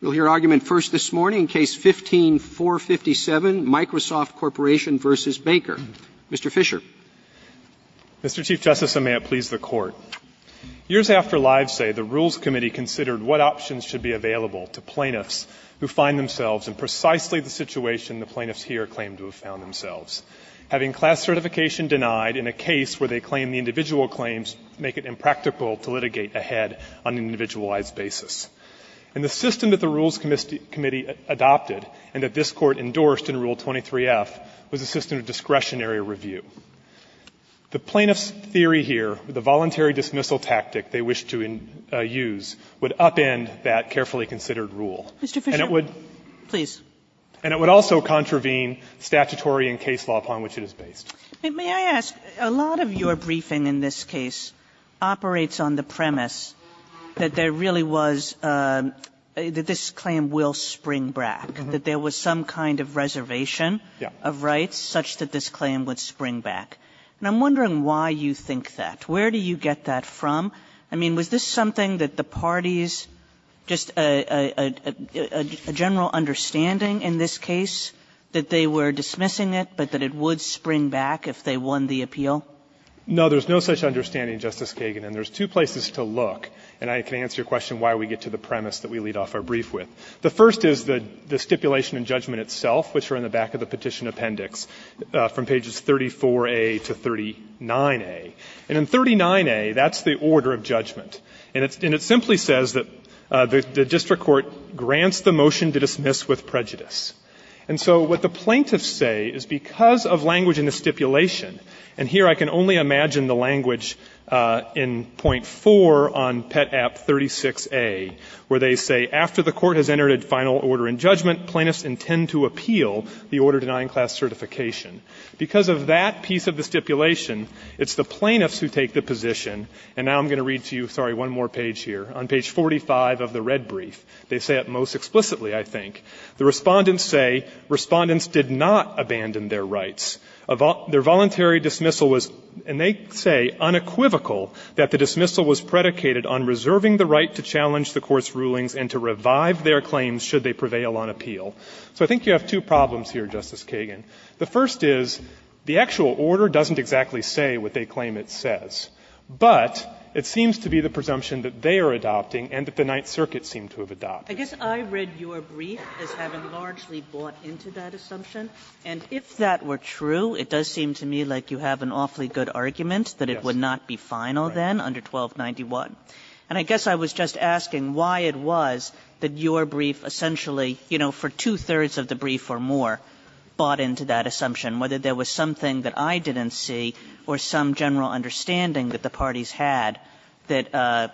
We'll hear argument first this morning, Case 15-457, Microsoft Corporation v. Baker. Mr. Fisher. Mr. Chief Justice, and may it please the Court, years after Livesay, the Rules Committee considered what options should be available to plaintiffs who find themselves in precisely the situation the plaintiffs here claim to have found themselves, having class certification denied in a case where they claim the individual claims make it impractical to litigate ahead on an individualized basis. And the system that the Rules Committee adopted and that this Court endorsed in Rule 23f was a system of discretionary review. The plaintiffs' theory here, the voluntary dismissal tactic they wish to use, would upend that carefully considered rule. And it would also contravene statutory and case law upon which it is based. May I ask, a lot of your briefing in this case operates on the premise that there really was, that this claim will spring back, that there was some kind of reservation of rights such that this claim would spring back. And I'm wondering why you think that. Where do you get that from? I mean, was this something that the parties, just a general understanding in this case, that they were dismissing it, but that it would spring back if they won the appeal? No, there's no such understanding, Justice Kagan. And there's two places to look, and I can answer your question why we get to the premise that we lead off our brief with. The first is the stipulation and judgment itself, which are in the back of the petition appendix from pages 34a to 39a. And in 39a, that's the order of judgment. And it simply says that the district court grants the motion to dismiss with prejudice. And so what the plaintiffs say is because of language in the stipulation, and here I can only imagine the language in point 4 on Pet. App. 36a, where they say, after the court has entered a final order in judgment, plaintiffs intend to appeal the order denying class certification. Because of that piece of the stipulation, it's the plaintiffs who take the position and now I'm going to read to you, sorry, one more page here. On page 45 of the red brief, they say it most explicitly, I think. The Respondents say, Respondents did not abandon their rights. Their voluntary dismissal was, and they say, unequivocal that the dismissal was predicated on reserving the right to challenge the court's rulings and to revive their claims should they prevail on appeal. So I think you have two problems here, Justice Kagan. The first is the actual order doesn't exactly say what they claim it says, but it seems to be the presumption that they are adopting and that the Ninth Circuit seemed to have adopted. Kagan I guess I read your brief as having largely bought into that assumption. And if that were true, it does seem to me like you have an awfully good argument that it would not be final then under 1291. And I guess I was just asking why it was that your brief essentially, you know, for two-thirds of the brief or more, bought into that assumption, whether there was something that I didn't see or some general understanding that the parties had that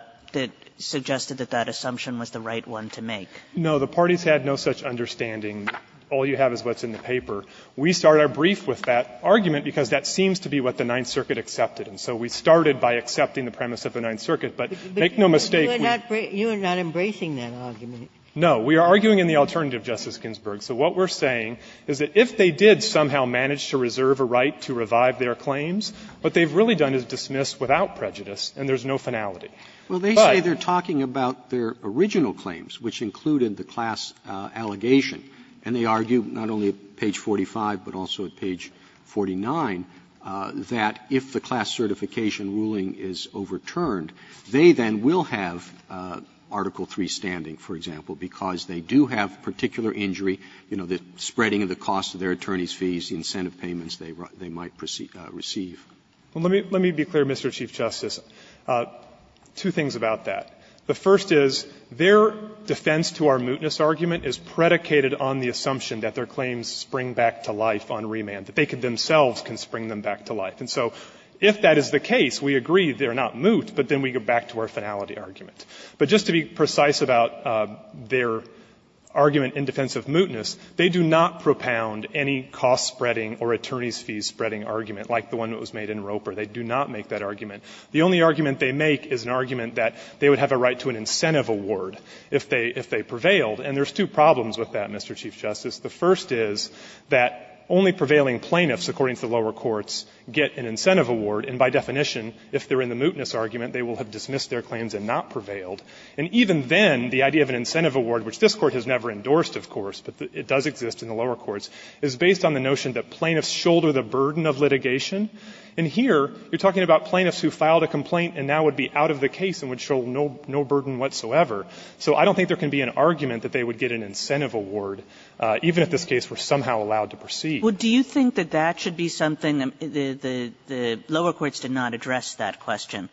suggested that that assumption was the right one to make. Fisherman No, the parties had no such understanding. All you have is what's in the paper. We start our brief with that argument because that seems to be what the Ninth Circuit accepted. And so we started by accepting the premise of the Ninth Circuit. But make no mistake, we are arguing in the alternative, Justice Ginsburg. So what we're saying is that if they did somehow manage to reserve a right to revive their claims, what they've really done is dismiss without prejudice and there's no finality. But they say they're talking about their original claims, which included the class allegation, and they argue not only at page 45 but also at page 49 that if the class certification ruling is overturned, they then will have Article III standing, for example, because they do have particular injury, you know, the spreading of the cost of their attorney's fees, the incentive payments they might receive. Fisherman Let me be clear, Mr. Chief Justice. Two things about that. The first is their defense to our mootness argument is predicated on the assumption that their claims spring back to life on remand, that they themselves can spring them back to life. And so if that is the case, we agree they're not moot, but then we go back to our finality argument. But just to be precise about their argument in defense of mootness, they do not propound any cost-spreading or attorney's fees-spreading argument like the one that was made in Roper. They do not make that argument. The only argument they make is an argument that they would have a right to an incentive award if they prevailed. And there's two problems with that, Mr. Chief Justice. The first is that only prevailing plaintiffs, according to the lower courts, get an incentive award, and by definition, if they're in the mootness argument, they will have dismissed their claims and not prevailed. And even then, the idea of an incentive award, which this Court has never endorsed, of course, but it does exist in the lower courts, is based on the notion that plaintiffs shoulder the burden of litigation. And here, you're talking about plaintiffs who filed a complaint and now would be out of the case and would show no burden whatsoever. So I don't think there can be an argument that they would get an incentive award even if this case were somehow allowed to proceed. Kagan. Kagan. Kagan. Do you think that that should be something? I mean, the lower courts did not address that question.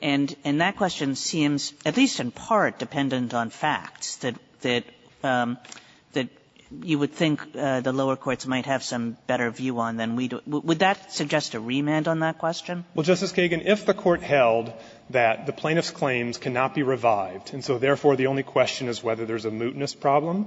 And that question seems, at least in part, dependent on facts, that you would think the lower courts might have some better view on than we do. Would that suggest a remand on that question? Well, Justice Kagan, if the Court held that the plaintiff's claims cannot be revived and so therefore the only question is whether there's a mootness problem,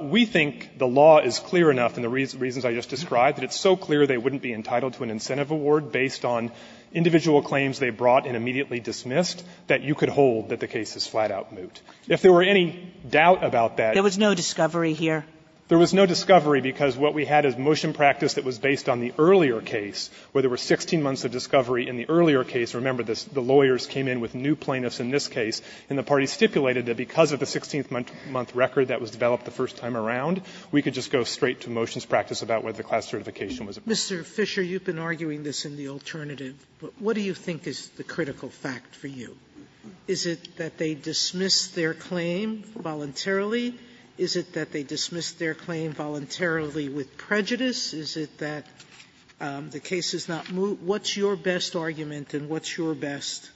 we think the law is clear enough in the reasons I just described that it's so clear they wouldn't be entitled to an incentive award based on individual claims they brought and immediately dismissed that you could hold that the case is flat-out moot. If there were any doubt about that ---- There was no discovery here? There was no discovery because what we had is motion practice that was based on the earlier case where there were 16 months of discovery in the earlier case. Remember, the lawyers came in with new plaintiffs in this case, and the parties stipulated that because of the 16-month record that was developed the first time around, we could just go straight to motions practice about whether the class certification was approved. Sotomayor, you've been arguing this in the alternative, but what do you think is the critical fact for you? Is it that they dismissed their claim voluntarily? Is it that they dismissed their claim voluntarily with prejudice? Is it that the case is not moot? What's your best argument and what's your best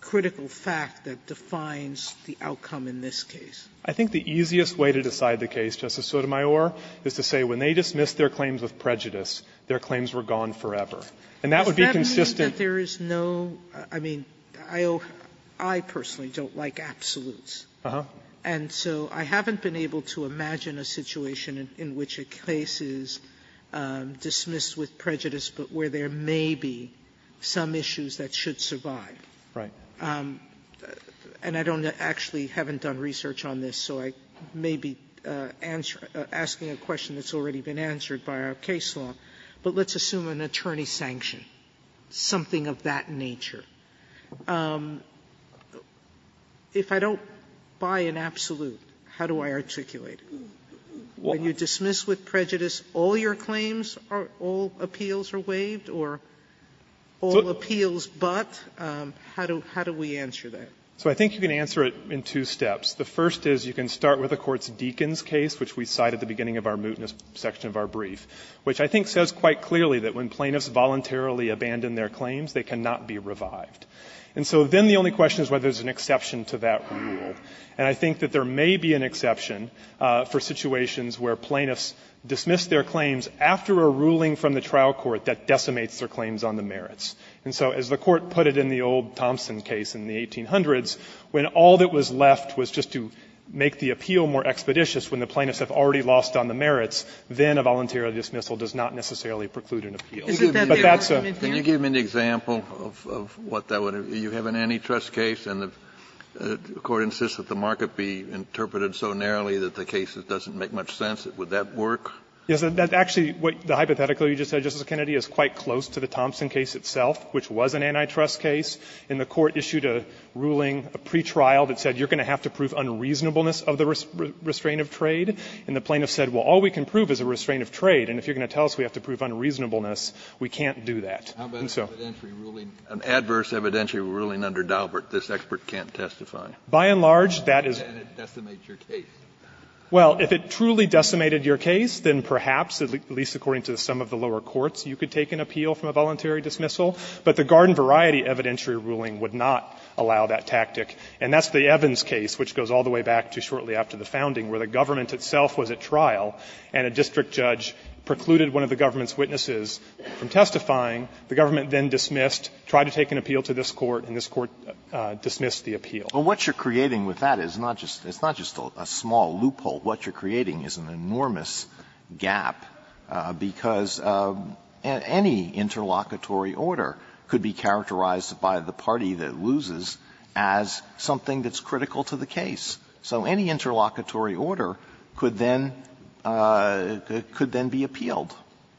critical fact that defines the outcome in this case? I think the easiest way to decide the case, Justice Sotomayor, is to say when they dismissed their claims with prejudice, their claims were gone forever. And that would be consistent ---- Does that mean that there is no ---- I mean, I personally don't like absolutes. And so I haven't been able to imagine a situation in which a case is dismissed with prejudice, but where there may be some issues that should survive. And I don't actually haven't done research on this, so I may be asking a question that's already been answered by our case law, but let's assume an attorney-sanction, something of that nature. If I don't buy an absolute, how do I articulate it? When you dismiss with prejudice all your claims, all appeals are waived, or all appeals but, how do we answer that? So I think you can answer it in two steps. The first is you can start with the Court's Deakins case, which we cite at the beginning of our mootness section of our brief, which I think says quite clearly that when And so then the only question is whether there's an exception to that rule. And I think that there may be an exception for situations where plaintiffs dismiss their claims after a ruling from the trial court that decimates their claims on the merits. And so as the Court put it in the old Thompson case in the 1800s, when all that was left was just to make the appeal more expeditious when the plaintiffs have already lost on the merits, then a voluntary dismissal does not necessarily preclude an appeal. Kennedy, but that's a Kennedy, can you give me an example of what that would, you have an antitrust case, and the Court insists that the market be interpreted so narrowly that the case that doesn't make much sense, would that work? Yes, that actually, the hypothetical you just said, Justice Kennedy, is quite close to the Thompson case itself, which was an antitrust case. And the Court issued a ruling, a pretrial, that said you're going to have to prove unreasonableness of the restraint of trade. And the plaintiffs said, well, all we can prove is a restraint of trade, and if you're going to have to prove unreasonableness, we can't do that. Kennedy, an adverse evidentiary ruling under Daubert, this expert can't testify. By and large, that is Kennedy, decimate your case. Well, if it truly decimated your case, then perhaps, at least according to some of the lower courts, you could take an appeal from a voluntary dismissal. But the Garden-Variety evidentiary ruling would not allow that tactic. And that's the Evans case, which goes all the way back to shortly after the founding, where the government itself was at trial, and a district judge precluded one of the government's witnesses from testifying. The government then dismissed, tried to take an appeal to this Court, and this Court dismissed the appeal. Alito, what you're creating with that is not just a small loophole. What you're creating is an enormous gap, because any interlocutory order could be characterized by the party that loses as something that's critical to the case. So any interlocutory order could then be appealed.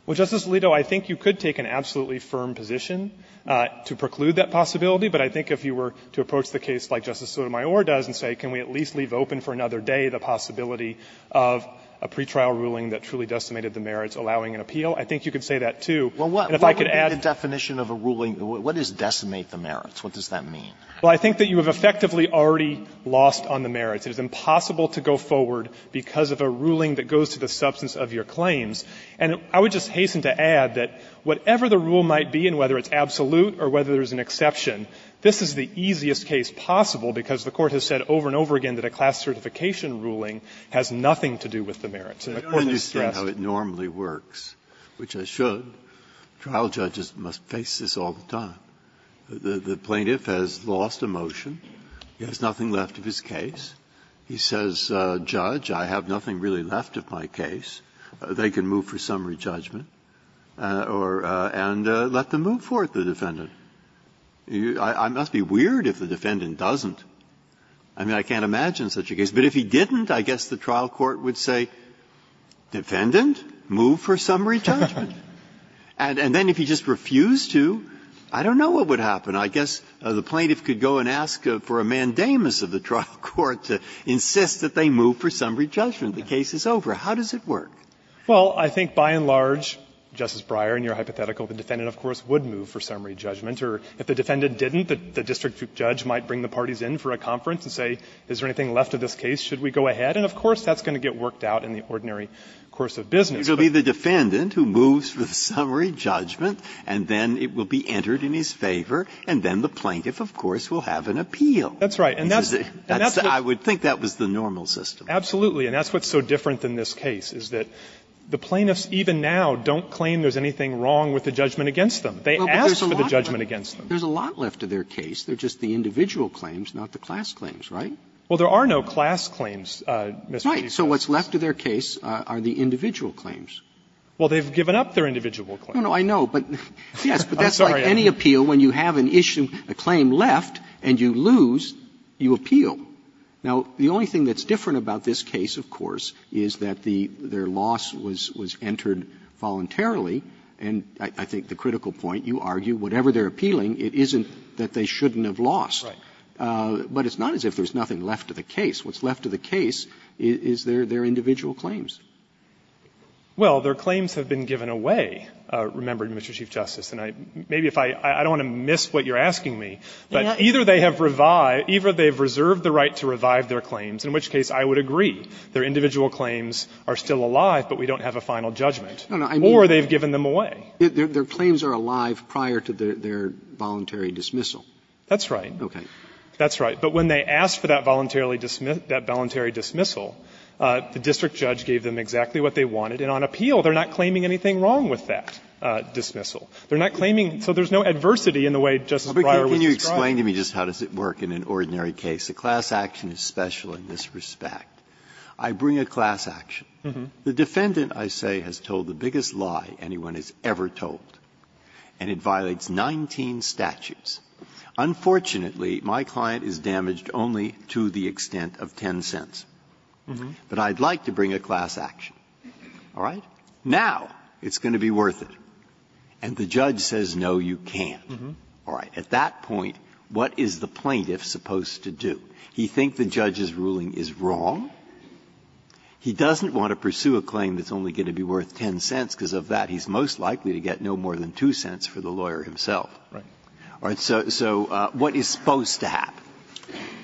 Well, Justice Alito, I think you could take an absolutely firm position to preclude that possibility, but I think if you were to approach the case like Justice Sotomayor does and say, can we at least leave open for another day the possibility of a pretrial ruling that truly decimated the merits, allowing an appeal, I think you could say that, too. And if I could add to that, what is decimate the merits? What does that mean? Well, I think that you have effectively already lost on the merits. It is impossible to go forward because of a ruling that goes to the substance of your claims. And I would just hasten to add that whatever the rule might be, and whether it's absolute or whether there's an exception, this is the easiest case possible, because the Court has said over and over again that a class certification ruling has nothing to do with the merits. Breyer, I don't understand how it normally works, which it should. Trial judges must face this all the time. The plaintiff has lost a motion, he has nothing left of his case, he says, judge, I have nothing really left of my case. They can move for summary judgment or and let them move forth, the defendant. I must be weird if the defendant doesn't. I mean, I can't imagine such a case. But if he didn't, I guess the trial court would say, defendant, move for summary judgment. And then if he just refused to, I don't know what would happen. I guess the plaintiff could go and ask for a mandamus of the trial court to insist that they move for summary judgment. The case is over. How does it work? Fisherman, Well, I think by and large, Justice Breyer, in your hypothetical, the defendant, of course, would move for summary judgment. Or if the defendant didn't, the district judge might bring the parties in for a conference and say, is there anything left of this case, should we go ahead? And of course, that's going to get worked out in the ordinary course of business. Breyer, It will be the defendant who moves for the summary judgment, and then it will be entered in his favor, and then the plaintiff, of course, will have an appeal. Fisherman, That's right. Breyer, I would think that was the normal system. Fisherman, Absolutely. And that's what's so different than this case, is that the plaintiffs even now don't claim there's anything wrong with the judgment against them. They ask for the judgment against them. Roberts, There's a lot left of their case. They're just the individual claims, not the class claims, right? Fisherman, Well, there are no class claims, Mr. Roberts. So what's left of their case are the individual claims. Roberts, Well, they've given up their individual claims. Fisherman, No, no, I know. But, yes, but that's like any appeal. When you have an issue, a claim left, and you lose, you appeal. Now, the only thing that's different about this case, of course, is that the loss was entered voluntarily. And I think the critical point, you argue, whatever they're appealing, it isn't that they shouldn't have lost. But it's not as if there's nothing left of the case. What's left of the case is their individual claims. Fisherman, Well, their claims have been given away, remembered, Mr. Chief Justice. And maybe if I don't want to miss what you're asking me, but either they have reserved the right to revive their claims, in which case I would agree. Their individual claims are still alive, but we don't have a final judgment. Or they've given them away. Roberts, Their claims are alive prior to their voluntary dismissal. Fisherman, That's right. Roberts, Okay. Fisherman, And they're not claiming anything wrong with that dismissal. They're not claiming anything wrong with that voluntary dismissal. The district judge gave them exactly what they wanted, and on appeal, they're not claiming anything wrong with that dismissal. They're not claiming so there's no adversity in the way Justice Breyer would describe it. Breyer, can you explain to me just how does it work in an ordinary case? A class action is special in this respect. I bring a class action. The defendant, I say, has told the biggest lie anyone has ever told, and it violates 19 statutes. Unfortunately, my client is damaged only to the extent of 10 cents. But I'd like to bring a class action. All right? Now it's going to be worth it. And the judge says, no, you can't. All right. At that point, what is the plaintiff supposed to do? He thinks the judge's ruling is wrong. He doesn't want to pursue a claim that's only going to be worth 10 cents, because of that, he's most likely to get no more than 2 cents for the lawyer himself. Right. All right. So what is supposed to happen?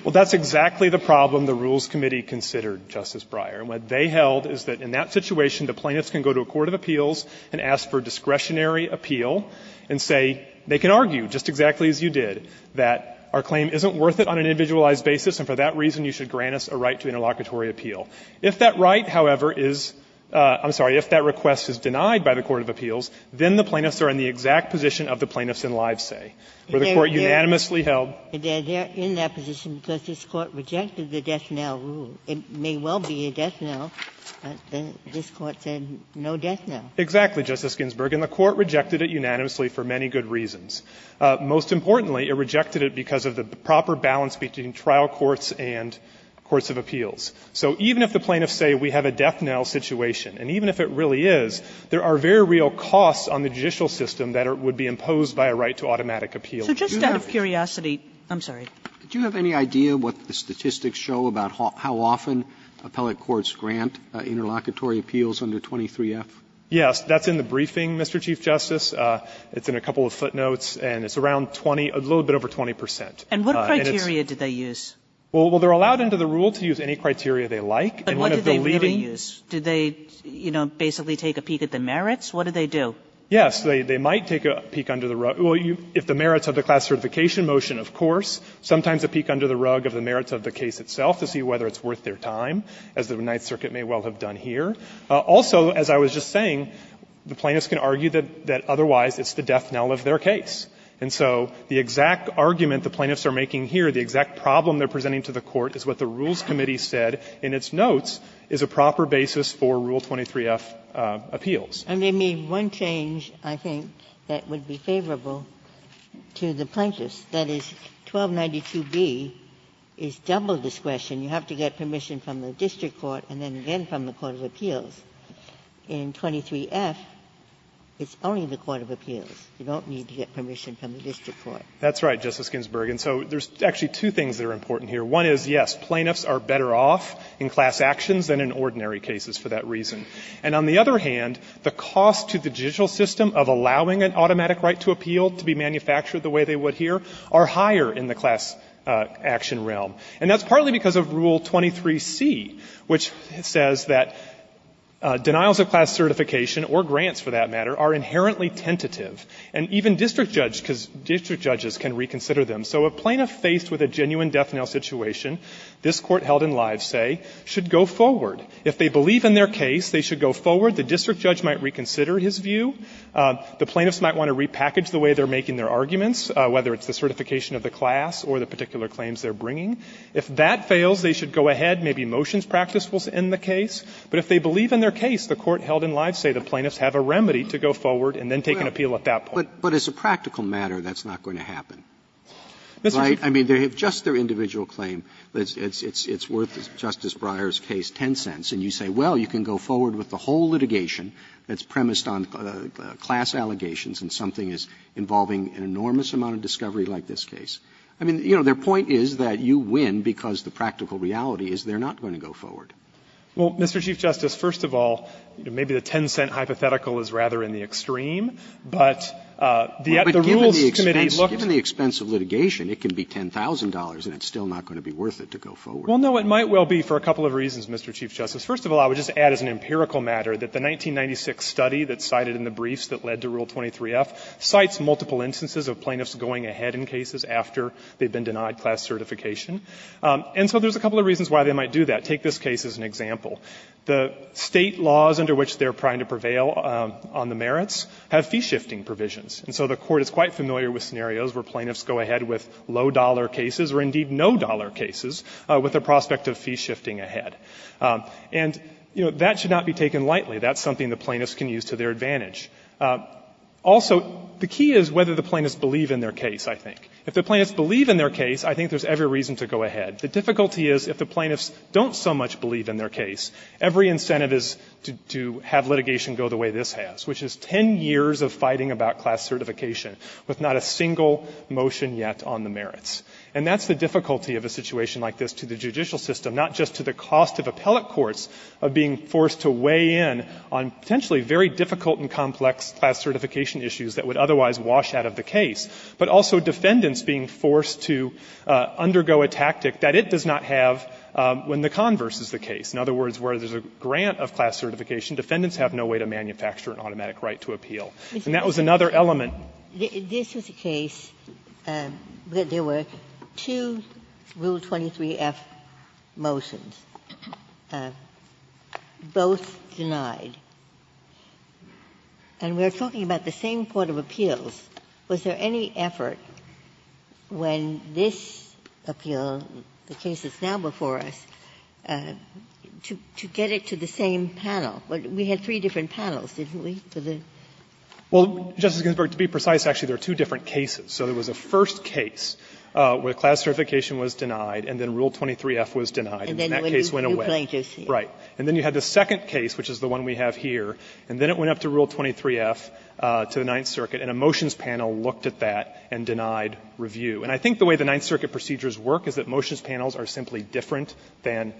Well, that's exactly the problem the Rules Committee considered, Justice Breyer. What they held is that in that situation, the plaintiffs can go to a court of appeals and ask for discretionary appeal and say they can argue, just exactly as you did, that our claim isn't worth it on an individualized basis, and for that reason, you should grant us a right to interlocutory appeal. If that right, however, is — I'm sorry, if that request is denied by the court of is a right to interlocutory appeal in the case of the death knell, I would say, where the Court unanimously held. Ginsburg. And they're in that position because this Court rejected the death knell rule. It may well be a death knell, but this Court said no death knell. Exactly, Justice Ginsburg. And the Court rejected it unanimously for many good reasons. Most importantly, it rejected it because of the proper balance between trial courts and courts of appeals. So even if the plaintiffs say we have a death knell situation, and even if it really is, there are very real costs on the judicial system that would be imposed by a right to automatic appeal. So just out of curiosity, I'm sorry. Do you have any idea what the statistics show about how often appellate courts grant interlocutory appeals under 23F? Yes. That's in the briefing, Mr. Chief Justice. It's in a couple of footnotes, and it's around 20, a little bit over 20 percent. And what criteria did they use? Well, they're allowed under the rule to use any criteria they like. And one of the leading uses Do they, you know, basically take a peek at the merits? What do they do? Yes. They might take a peek under the rug. Well, if the merits of the class certification motion, of course. Sometimes a peek under the rug of the merits of the case itself to see whether it's worth their time, as the Ninth Circuit may well have done here. Also, as I was just saying, the plaintiffs can argue that otherwise it's the death knell of their case. And so the exact argument the plaintiffs are making here, the exact problem they're presenting to the Court is what the Rules Committee said in its notes is a proper basis for Rule 23F appeals. And they made one change, I think, that would be favorable to the plaintiffs. That is, 1292B is double discretion. You have to get permission from the district court and then again from the court of appeals. In 23F, it's only the court of appeals. You don't need to get permission from the district court. That's right, Justice Ginsburg. And so there's actually two things that are important here. One is, yes, plaintiffs are better off in class actions than in ordinary cases for that reason. And on the other hand, the cost to the judicial system of allowing an automatic right to appeal to be manufactured the way they would here are higher in the class action realm. And that's partly because of Rule 23C, which says that denials of class certification or grants, for that matter, are inherently tentative, and even district judges can reconsider them. So a plaintiff faced with a genuine death knell situation, this Court held in live say, should go forward. If they believe in their case, they should go forward. The district judge might reconsider his view. The plaintiffs might want to repackage the way they're making their arguments, whether it's the certification of the class or the particular claims they're bringing. If that fails, they should go ahead, maybe motions practice will end the case. But if they believe in their case, the Court held in live say, the plaintiffs have a remedy to go forward and then take an appeal at that point. Robertson, But as a practical matter, that's not going to happen, right? I mean, if just their individual claim, it's worth, in Justice Breyer's case, $0.10, and you say, well, you can go forward with the whole litigation that's premised on class allegations and something is involving an enormous amount of discovery like this case. I mean, you know, their point is that you win because the practical reality is they're not going to go forward. Well, Mr. Chief Justice, first of all, maybe the $0.10 hypothetical is rather in the extreme, but the rules committee looked at it. But given the expense of litigation, it can be $10,000 and it's still not going to be worth it to go forward. Well, no, it might well be for a couple of reasons, Mr. Chief Justice. First of all, I would just add as an empirical matter that the 1996 study that's cited in the briefs that led to Rule 23f cites multiple instances of plaintiffs going ahead in cases after they've been denied class certification. And so there's a couple of reasons why they might do that. I'm going to take this case as an example. The State laws under which they're trying to prevail on the merits have fee-shifting provisions. And so the Court is quite familiar with scenarios where plaintiffs go ahead with low-dollar cases or, indeed, no-dollar cases with the prospect of fee-shifting ahead. And, you know, that should not be taken lightly. That's something the plaintiffs can use to their advantage. Also, the key is whether the plaintiffs believe in their case, I think. If the plaintiffs believe in their case, I think there's every reason to go ahead. The difficulty is if the plaintiffs don't so much believe in their case, every incentive is to have litigation go the way this has, which is ten years of fighting about class certification with not a single motion yet on the merits. And that's the difficulty of a situation like this to the judicial system, not just to the cost of appellate courts of being forced to weigh in on potentially very difficult and complex class certification issues that would otherwise wash out of the case, but also defendants being forced to undergo a tactic that would make it so that it does not have when the converse is the case. In other words, where there's a grant of class certification, defendants have no way to manufacture an automatic right to appeal. And that was another element. Ginsburg. This was a case where there were two Rule 23-F motions, both denied, and we are talking about the same court of appeals. Was there any effort when this appeal, the case that's now before us, to get it to the same panel? We had three different panels, didn't we? For the rule 23-F? Fisherman. Well, Justice Ginsburg, to be precise, actually, there are two different cases. So there was a first case where class certification was denied and then Rule 23-F was denied, and that case went away. Ginsburg. And then you had the second case, which is the one we have here, and then it went up to Rule 23-F, to the Ninth Circuit, and a motions panel looked at that and denied review. And I think the way the Ninth Circuit procedures work is that motions panels are simply different than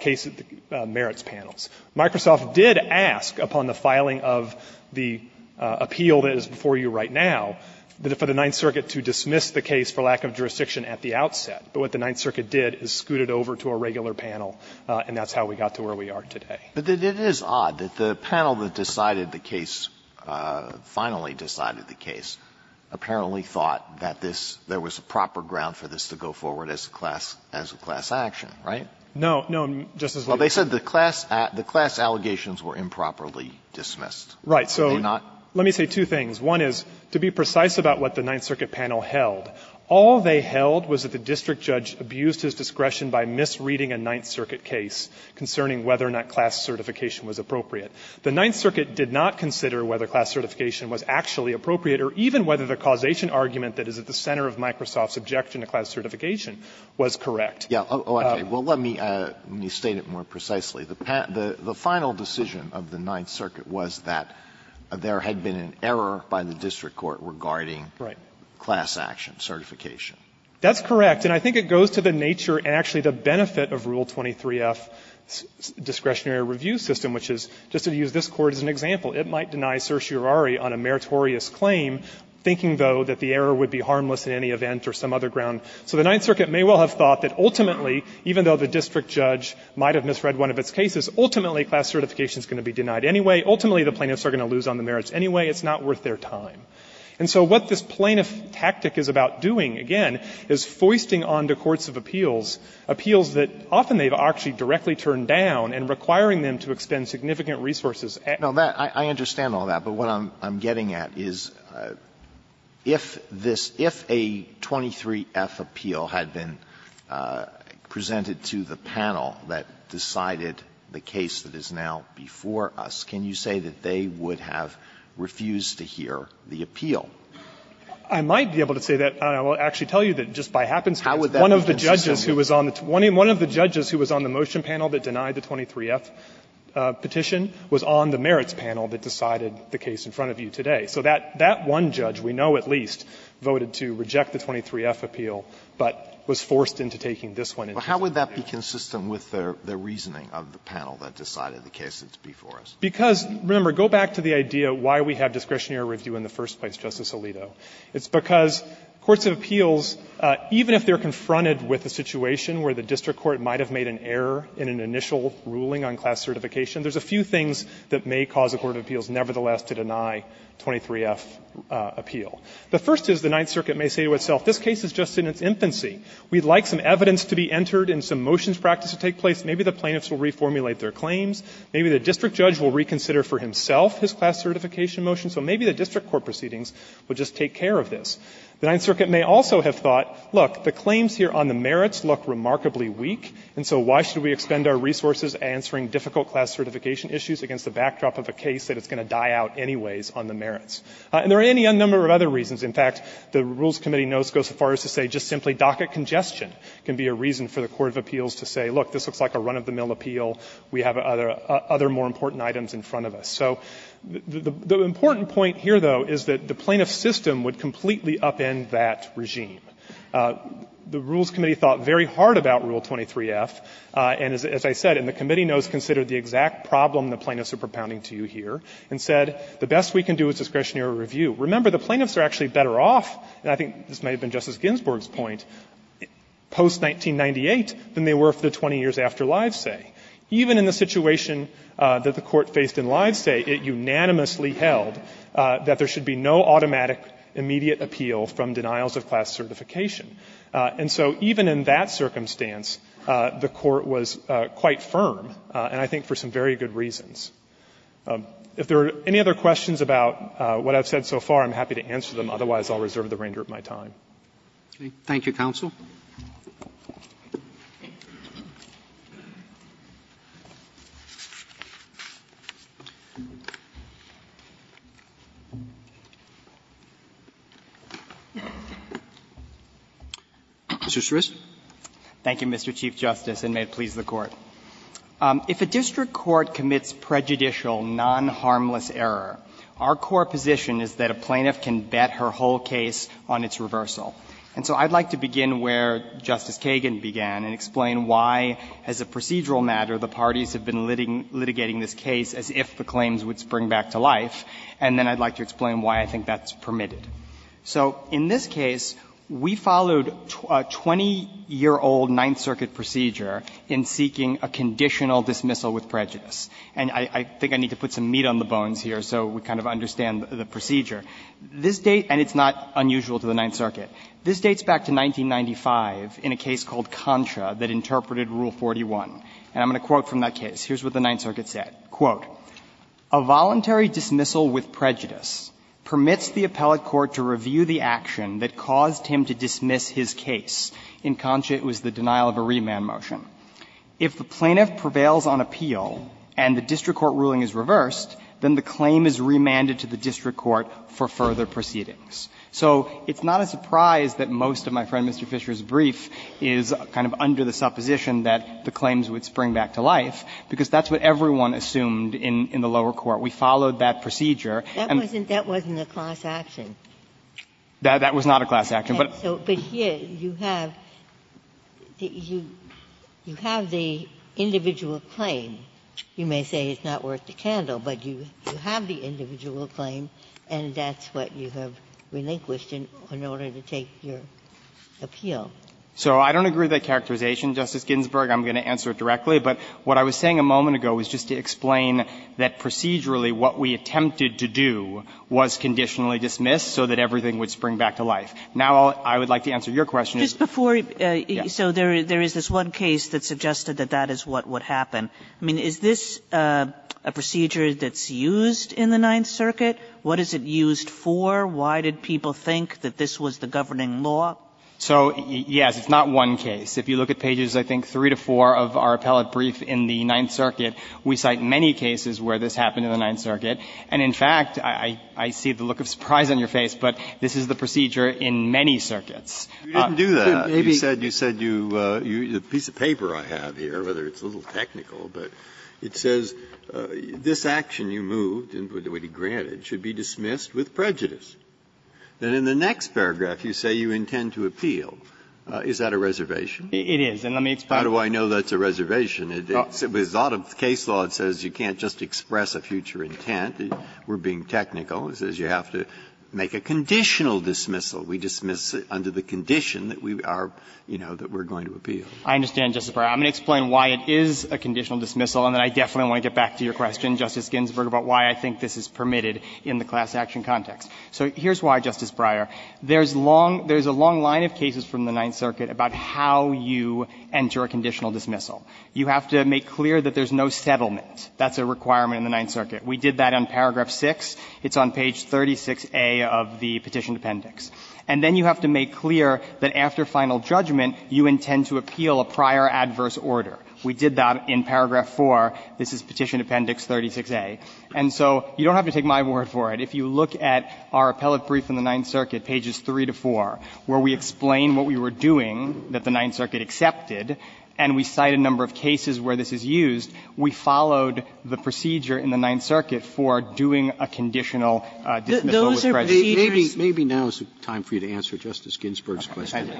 case merits panels. Microsoft did ask, upon the filing of the appeal that is before you right now, for the Ninth Circuit to dismiss the case for lack of jurisdiction at the outset. But what the Ninth Circuit did is scoot it over to a regular panel, and that's how we got to where we are today. Alito, but it is odd that the panel that decided the case, finally decided the case, apparently thought that this was a proper ground for this to go forward as a class action, right? No. No, Justice Alito. Well, they said the class allegations were improperly dismissed. Right. So let me say two things. One is, to be precise about what the Ninth Circuit panel held, all they held was that the district judge abused his discretion by misreading a Ninth Circuit case concerning whether or not class certification was appropriate. The Ninth Circuit did not consider whether class certification was actually appropriate or even whether the causation argument that is at the center of Microsoft's objection to class certification was correct. Yeah. Okay. Well, let me state it more precisely. The final decision of the Ninth Circuit was that there had been an error by the district court regarding class action certification. That's correct. And I think it goes to the nature and actually the benefit of Rule 23-F's discretionary review system, which is, just to use this Court as an example, it might deny certiorari on a meritorious claim, thinking, though, that the error would be harmless in any event or some other ground. So the Ninth Circuit may well have thought that ultimately, even though the district judge might have misread one of its cases, ultimately class certification is going to be denied anyway. Ultimately, the plaintiffs are going to lose on the merits anyway. It's not worth their time. And so what this plaintiff tactic is about doing, again, is foisting onto courts of appeals, appeals that often they've actually directly turned down and requiring them to expend significant resources. Alito, I understand all that, but what I'm getting at is, if this, if a 23-F appeal had been presented to the panel that decided the case that is now before us, can you say that they would have refused to hear the appeal? Fisherman, I might be able to say that. I will actually tell you that just by happenstance, one of the judges who was on the motion panel that denied the 23-F petition was on the merits panel that decided the case in front of you today. So that one judge, we know at least, voted to reject the 23-F appeal, but was forced into taking this one into consideration. Alito, how would that be consistent with the reasoning of the panel that decided the case that's before us? Because, remember, go back to the idea why we have discretionary review in the first place, Justice Alito. It's because courts of appeals, even if they're confronted with a situation where the district court might have made an error in an initial ruling on class certification, there's a few things that may cause a court of appeals, nevertheless, to deny 23-F appeal. The first is the Ninth Circuit may say to itself, this case is just in its infancy. We'd like some evidence to be entered and some motions practice to take place. Maybe the plaintiffs will reformulate their claims. Maybe the district judge will reconsider for himself his class certification motion. So maybe the district court proceedings would just take care of this. The Ninth Circuit may also have thought, look, the claims here on the merits look remarkably weak, and so why should we expend our resources answering difficult class certification issues against the backdrop of a case that is going to die out anyways on the merits? And there are any number of other reasons. In fact, the Rules Committee knows goes as far as to say just simply docket congestion can be a reason for the court of appeals to say, look, this looks like a run-of-the-mill appeal. We have other more important items in front of us. So the important point here, though, is that the plaintiff's system would completely upend that regime. The Rules Committee thought very hard about Rule 23-F, and as I said, and the committee knows, considered the exact problem the plaintiffs are propounding to you here, and said the best we can do is discretionary review. Remember, the plaintiffs are actually better off, and I think this may have been Justice Ginsburg's point, post-1998 than they were for the 20 years after lives, say. Even in the situation that the Court faced in lives, say, it unanimously held that there should be no automatic immediate appeal from denials of class certification. And so even in that circumstance, the Court was quite firm, and I think for some very good reasons. If there are any other questions about what I've said so far, I'm happy to answer them. Otherwise, I'll reserve the remainder of my time. Roberts. Thank you, counsel. Mr. Sris. Thank you, Mr. Chief Justice, and may it please the Court. If a district court commits prejudicial non-harmless error, our core position is that a plaintiff can bet her whole case on its reversal. And so I'd like to begin where Justice Kagan began and explain why, as a procedural matter, the parties have been litigating this case as if the claims would spring back to life, and then I'd like to explain why I think that's permitted. So in this case, we followed a 20-year-old Ninth Circuit procedure in seeking a conditional dismissal with prejudice. And I think I need to put some meat on the bones here so we kind of understand the procedure. This date, and it's not unusual to the Ninth Circuit, this dates back to 1995 in a case called Contra that interpreted Rule 41. And I'm going to quote from that case. Here's what the Ninth Circuit said. Quote, "...a voluntary dismissal with prejudice permits the appellate court to review the action that caused him to dismiss his case." In Contra, it was the denial of a remand motion. If the plaintiff prevails on appeal and the district court ruling is reversed, then the claim is remanded to the district court for further proceedings. So it's not a surprise that most of my friend Mr. Fisher's brief is kind of under the supposition that the claims would spring back to life, because that's what everyone assumed in the lower court. We followed that procedure. And that wasn't a class action. That was not a class action. Ginsburg. But here you have the individual claim. You may say it's not worth the candle, but you have the individual claim and that's what you have relinquished in order to take your appeal. So I don't agree with that characterization, Justice Ginsburg. I'm going to answer it directly. But what I was saying a moment ago was just to explain that procedurally what we attempted to do was conditionally dismiss so that everything would spring back to life. Now I would like to answer your question. Kagan. Just before, so there is this one case that suggested that that is what would happen. I mean, is this a procedure that's used in the Ninth Circuit? What is it used for? Why did people think that this was the governing law? So, yes, it's not one case. If you look at pages, I think, three to four of our appellate brief in the Ninth Circuit, we cite many cases where this happened in the Ninth Circuit. And the reason that it was used in the Ninth Circuit was that it was permitted to use this procedure in many circuits. Breyer. Breyer. You didn't do that. You said you used a piece of paper I have here, whether it's a little technical, but it says, This action you moved and would be granted should be dismissed with prejudice. Then in the next paragraph you say you intend to appeal. Is that a reservation? It is. And let me explain. How do I know that's a reservation? It's out of case law. It says you can't just express a future intent. We're being technical. It says you have to make a conditional dismissal. We dismiss under the condition that we are, you know, that we're going to appeal. I understand, Justice Breyer. I'm going to explain why it is a conditional dismissal, and then I definitely want to get back to your question, Justice Ginsburg, about why I think this is permitted in the class action context. So here's why, Justice Breyer. There's long – there's a long line of cases from the Ninth Circuit about how you enter a conditional dismissal. You have to make clear that there's no settlement. That's a requirement in the Ninth Circuit. We did that in paragraph 6. It's on page 36A of the Petition Appendix. And then you have to make clear that after final judgment you intend to appeal a prior adverse order. We did that in paragraph 4. This is Petition Appendix 36A. And so you don't have to take my word for it. If you look at our appellate brief in the Ninth Circuit, pages 3 to 4, where we explain what we were doing that the Ninth Circuit accepted, and we cite a number of cases where this is used, we followed the procedure in the Ninth Circuit for doing a conditional dismissal with prejudice. Sotomayor, maybe now is the time for you to answer Justice Ginsburg's question.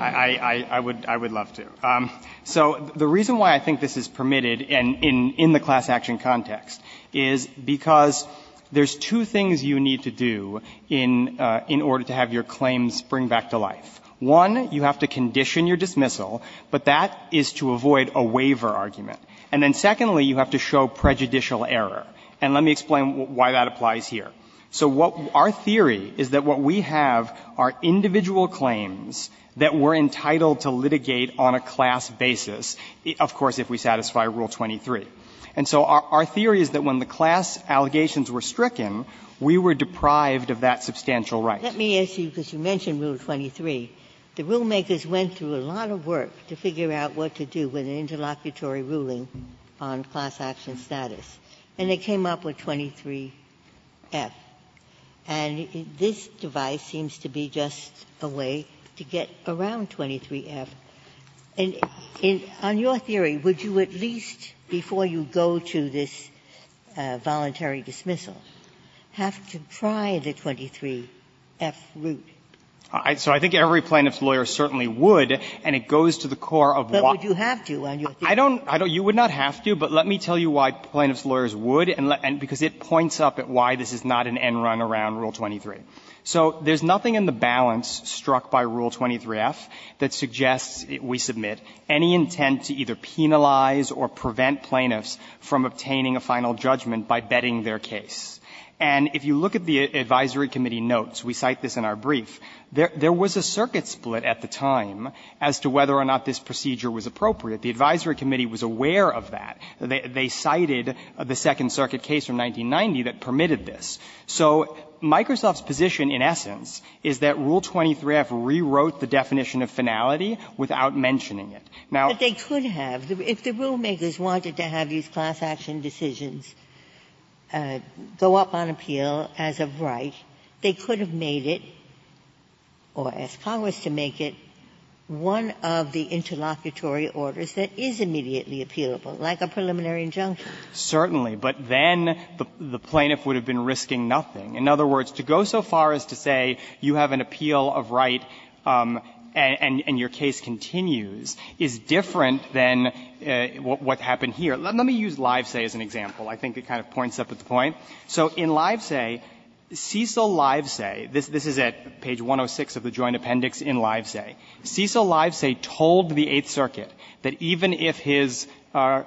I would love to. So the reason why I think this is permitted in the class action context is because there's two things you need to do in order to have your claims spring back to life. One, you have to condition your dismissal, but that is to avoid a waiver argument. And then secondly, you have to show prejudicial error. And let me explain why that applies here. So what our theory is that what we have are individual claims that we're entitled to litigate on a class basis, of course, if we satisfy Rule 23. And so our theory is that when the class allegations were stricken, we were deprived of that substantial right. Ginsburg. Let me ask you, because you mentioned Rule 23, the rulemakers went through a lot of work to figure out what to do with an interlocutory ruling on class action status, and they came up with 23F. And this device seems to be just a way to get around 23F. And on your theory, would you at least, before you go to this voluntary dismissal, have to pry the 23F root? So I think every plaintiff's lawyer certainly would, and it goes to the core of what But would you have to on your theory? You would not have to, but let me tell you why plaintiff's lawyers would, and because it points up at why this is not an end run around Rule 23. So there's nothing in the balance struck by Rule 23F that suggests, we submit, any intent to either penalize or prevent plaintiffs from obtaining a final judgment by betting their case. And if you look at the advisory committee notes, we cite this in our brief, there was a circuit split at the time as to whether or not this procedure was appropriate. The advisory committee was aware of that. They cited the Second Circuit case from 1990 that permitted this. So Microsoft's position, in essence, is that Rule 23F rewrote the definition of finality without mentioning it. Now they could have. If the rulemakers wanted to have these class action decisions go up on appeal as of right, they could have made it, or asked Congress to make it, one of the interlocutory orders that is immediately appealable, like a preliminary injunction. Certainly. But then the plaintiff would have been risking nothing. In other words, to go so far as to say you have an appeal of right and your case continues is different than what happened here. Let me use Livesay as an example. I think it kind of points up at the point. So in Livesay, Cecil Livesay, this is at page 106 of the Joint Appendix in Livesay. Cecil Livesay told the Eighth Circuit that even if his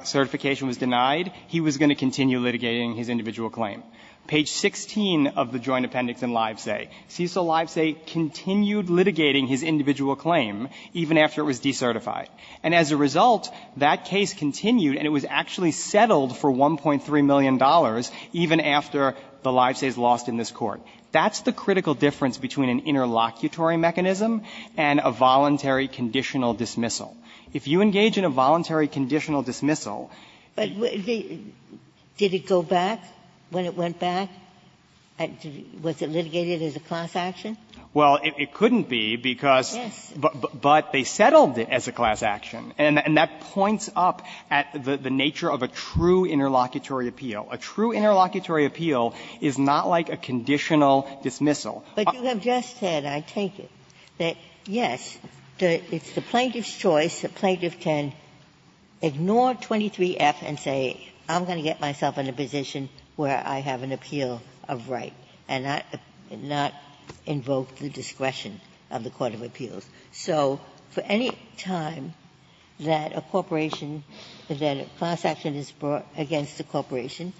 certification was denied, he was going to continue litigating his individual claim. Page 16 of the Joint Appendix in Livesay, Cecil Livesay continued litigating his individual claim even after it was decertified. And as a result, that case continued and it was actually settled for $1.3 million even after the Livesays lost in this Court. That's the critical difference between an interlocutory mechanism and a voluntary conditional dismissal. If you engage in a voluntary conditional dismissal they go back, when it went back, was it litigated as a class action? Well, it couldn't be because, but they settled it as a class action. And that points up at the nature of a true interlocutory appeal. A true interlocutory appeal is not like a conditional dismissal. But you have just said, I take it, that yes, it's the plaintiff's choice, the plaintiff can ignore 23F and say, I'm going to get myself in a position where I have an appeal of right and not invoke the discretion of the court of appeals. So for any time that a corporation, that a class action is brought against a corporation,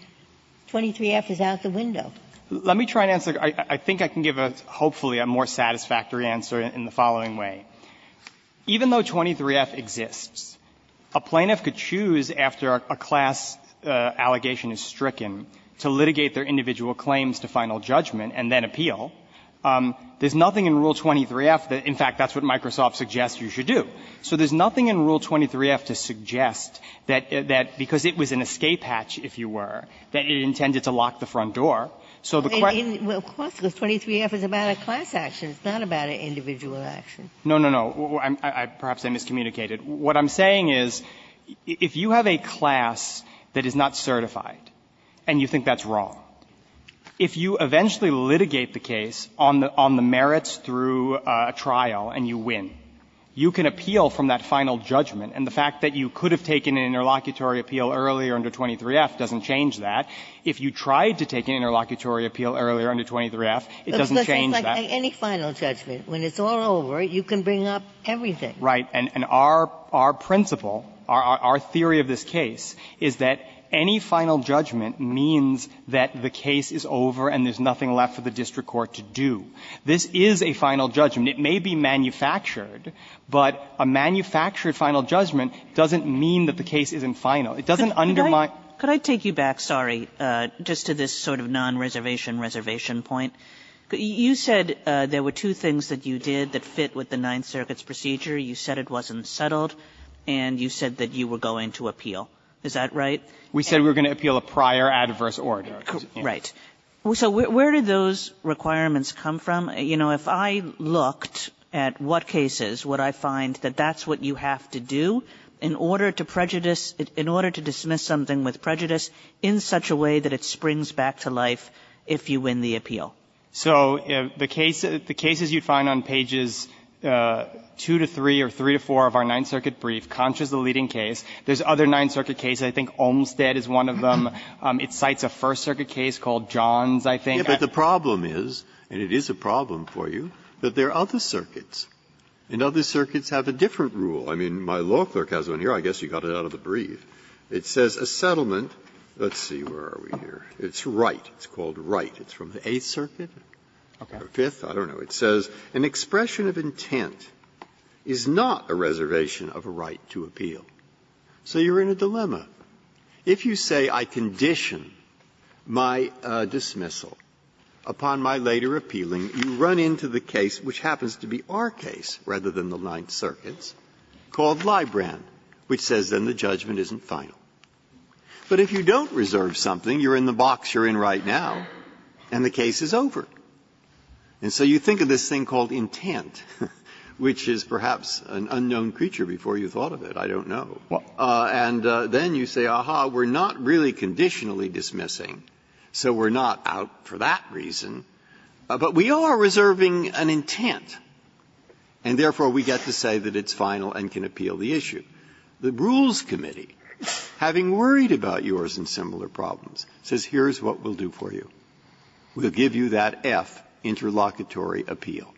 23F is out the window. Let me try and answer. I think I can give a, hopefully, a more satisfactory answer in the following way. Even though 23F exists, a plaintiff could choose after a class allegation is stricken to litigate their individual claims to final judgment and then appeal. There's nothing in Rule 23F that, in fact, that's what Microsoft suggests you should do. So there's nothing in Rule 23F to suggest that, because it was an escape hatch, if you were, that it intended to lock the front door. So the question of course, because 23F is about a class action. It's not about an individual action. No, no, no. Perhaps I miscommunicated. What I'm saying is, if you have a class that is not certified and you think that's wrong, if you eventually litigate the case on the merits through a trial and you win, you can appeal from that final judgment. And the fact that you could have taken an interlocutory appeal earlier under 23F doesn't change that. If you tried to take an interlocutory appeal earlier under 23F, it doesn't change that. Ginsburg. But it's like any final judgment. When it's all over, you can bring up everything. Right. And our principle, our theory of this case is that any final judgment means that the case is over and there's nothing left for the district court to do. This is a final judgment. It may be manufactured. But a manufactured final judgment doesn't mean that the case isn't final. Kagan. Kagan. Kagan. Kagan. Could I take you back, sorry, just to this sort of non-reservation reservation point? You said there were two things that you did that fit with the Ninth Circuits' procedure. You said it wasn't settled, and you said that you were going to appeal. Is that right? We said we were going to appeal a prior adverse order. Right. So where did those requirements come from? You know, if I looked at what cases would I find that that's what you have to do in order to prejudice, in order to dismiss something with prejudice in such a way that it springs back to life if you win the appeal? So the case you find on pages 2 to 3 or 3 to 4 of our Ninth Circuit brief, Conch is the leading case. There's other Ninth Circuit cases. I think Olmstead is one of them. It cites a First Circuit case called Johns, I think. Breyer. But the problem is, and it is a problem for you, that there are other circuits, and other circuits have a different rule. I mean, my law clerk has one here. I guess you got it out of the brief. It says a settlement. Let's see. Where are we here? It's Wright. It's called Wright. It's from the Eighth Circuit or Fifth. I don't know. It says an expression of intent is not a reservation of a right to appeal. So you're in a dilemma. If you say I condition my dismissal upon my later appealing, you run into the case, which happens to be our case rather than the Ninth Circuit's, called Libran, which says then the judgment isn't final. But if you don't reserve something, you're in the box you're in right now. And the case is over. And so you think of this thing called intent, which is perhaps an unknown creature before you thought of it. I don't know. And then you say, aha, we're not really conditionally dismissing, so we're not out for that reason. But we are reserving an intent, and therefore we get to say that it's final and can appeal the issue. The Rules Committee, having worried about yours and similar problems, says here's what we'll do for you. We'll give you that F, interlocutory appeal.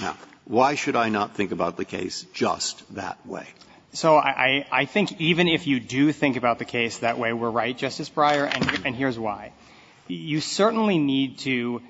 Now, why should I not think about the case just that way? So I think even if you do think about the case that way, we're right, Justice Breyer, and here's why. You certainly need to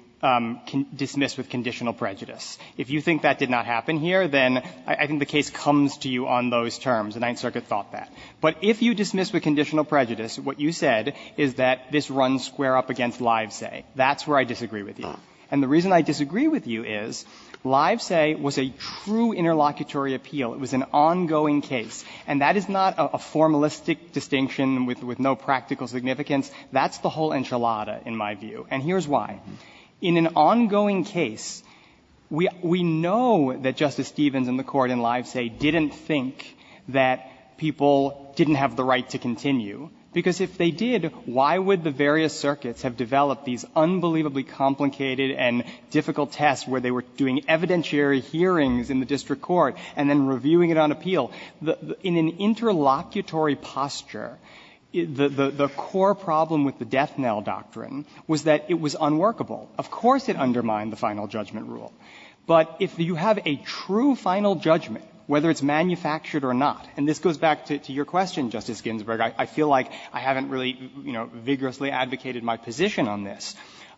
dismiss with conditional prejudice. If you think that did not happen here, then I think the case comes to you on those terms. The Ninth Circuit thought that. But if you dismiss with conditional prejudice, what you said is that this runs square up against Livesay. That's where I disagree with you. And the reason I disagree with you is Livesay was a true interlocutory appeal. It was an ongoing case. And that is not a formalistic distinction with no practical significance. That's the whole enchilada, in my view. And here's why. In an ongoing case, we know that Justice Stevens and the Court in Livesay didn't think that people didn't have the right to continue, because if they did, why would the various circuits have developed these unbelievably complicated and difficult tests where they were doing evidentiary hearings in the district court and then reviewing it on appeal? In an interlocutory posture, the core problem with the death knell doctrine was that it was unworkable. Of course it undermined the final judgment rule. But if you have a true final judgment, whether it's manufactured or not, and this goes back to your question, Justice Ginsburg, I feel like I haven't really, you know, vigorously advocated my position on this.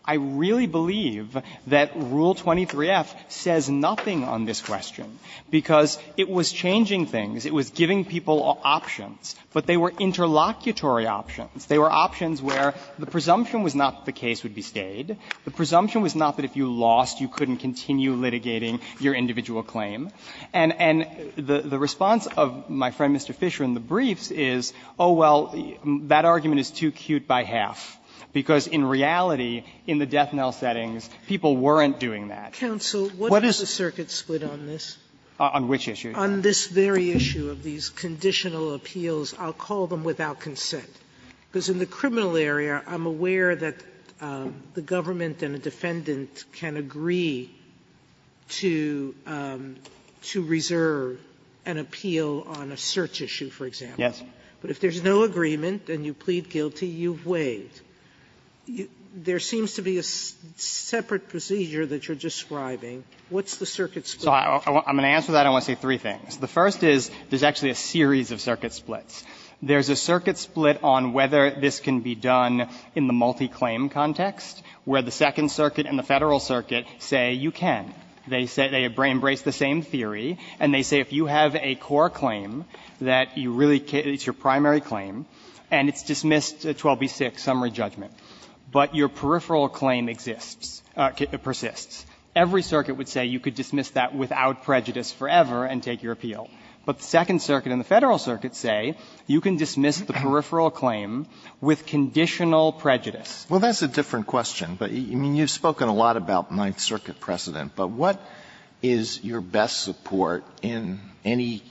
I really believe that Rule 23f says nothing on this question, because it was changing things. It was giving people options. But they were interlocutory options. They were options where the presumption was not that the case would be stayed. The presumption was not that if you lost, you couldn't continue litigating your individual claim. And the response of my friend, Mr. Fisher, in the briefs is, oh, well, that argument is too cute by half, because in reality, in the death knell settings, people weren't doing that. Sotomayor, what is the circuit split on this? On which issue? On this very issue of these conditional appeals. I'll call them without consent, because in the criminal area, I'm aware that the government and a defendant can agree to reserve an appeal on a search issue, for example. Yes. But if there's no agreement and you plead guilty, you've waived. There seems to be a separate procedure that you're describing. What's the circuit split? So I'm going to answer that, and I want to say three things. The first is, there's actually a series of circuit splits. There's a circuit split on whether this can be done in the multi-claim context, where the Second Circuit and the Federal Circuit say you can. They say they embrace the same theory, and they say if you have a core claim that you really can't, it's your primary claim, and it's dismissed, 12b-6, summary judgment, but your peripheral claim exists, persists, every circuit would say you could dismiss that without prejudice forever and take your appeal. But the Second Circuit and the Federal Circuit say you can dismiss the peripheral claim with conditional prejudice. Well, that's a different question, but, I mean, you've spoken a lot about Ninth Circuit precedent. But what is your best support in any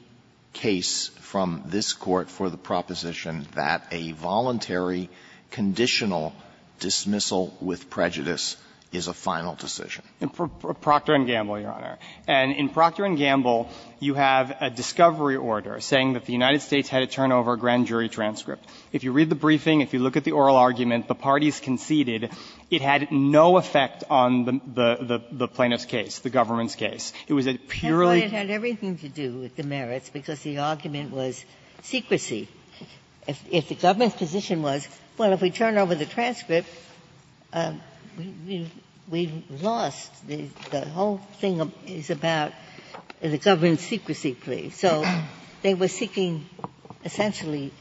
case from this Court for the proposition that a voluntary conditional dismissal with prejudice is a final decision? And for Procter & Gamble, Your Honor, and in Procter & Gamble, you have a discovery order saying that the United States had to turn over a grand jury transcript. If you read the briefing, if you look at the oral argument, the parties conceded it had no effect on the plaintiff's case, the government's case. It was a purely case. Ginsburg. That's why it had everything to do with the merits, because the argument was secrecy. If the government's position was, well, if we turn over the transcript, we've lost the whole thing is about the government's secrecy plea. So they were seeking, essentially,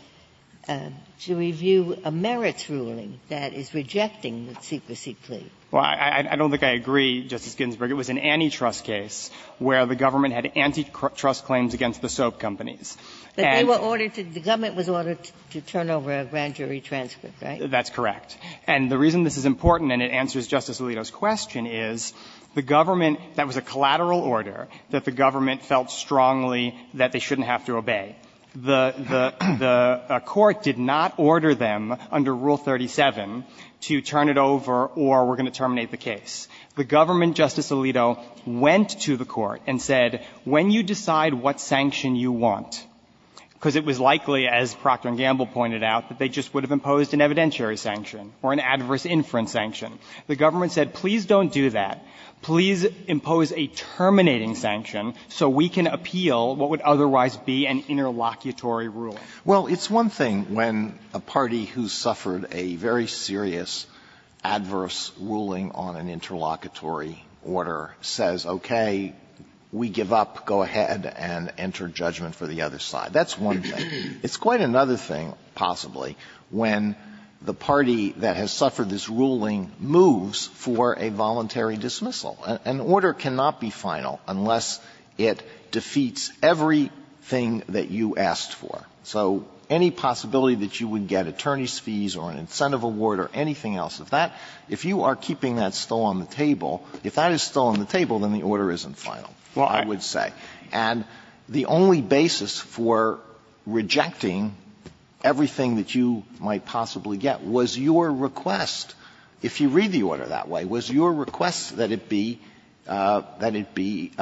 to review a merits ruling that is rejecting the secrecy plea. Well, I don't think I agree, Justice Ginsburg. It was an antitrust case where the government had antitrust claims against the soap companies. And they were ordered to the government was ordered to turn over a grand jury transcript, right? That's correct. And the reason this is important, and it answers Justice Alito's question, is the government, that was a collateral order that the government felt strongly that they shouldn't have to obey. The Court did not order them, under Rule 37, to turn it over or we're going to terminate the case. The government, Justice Alito, went to the Court and said, when you decide what sanction you want, because it was likely, as Procter & Gamble pointed out, that they just would have imposed an evidentiary sanction or an adverse inference sanction, the government said, please don't do that. Please impose a terminating sanction so we can appeal what would otherwise be an interlocutory rule. Well, it's one thing when a party who suffered a very serious adverse ruling on an interlocutory order says, okay, we give up, go ahead and enter judgment for the other side. That's one thing. It's quite another thing, possibly, when the party that has suffered this ruling moves for a voluntary dismissal. An order cannot be final unless it defeats everything that you asked for. So any possibility that you would get attorney's fees or an incentive award or anything else, if that – if you are keeping that still on the table, if that is still on the table, then the order isn't final, I would say. And the only basis for rejecting everything that you might possibly get was your request, if you read the order that way, was your request that it be – that it be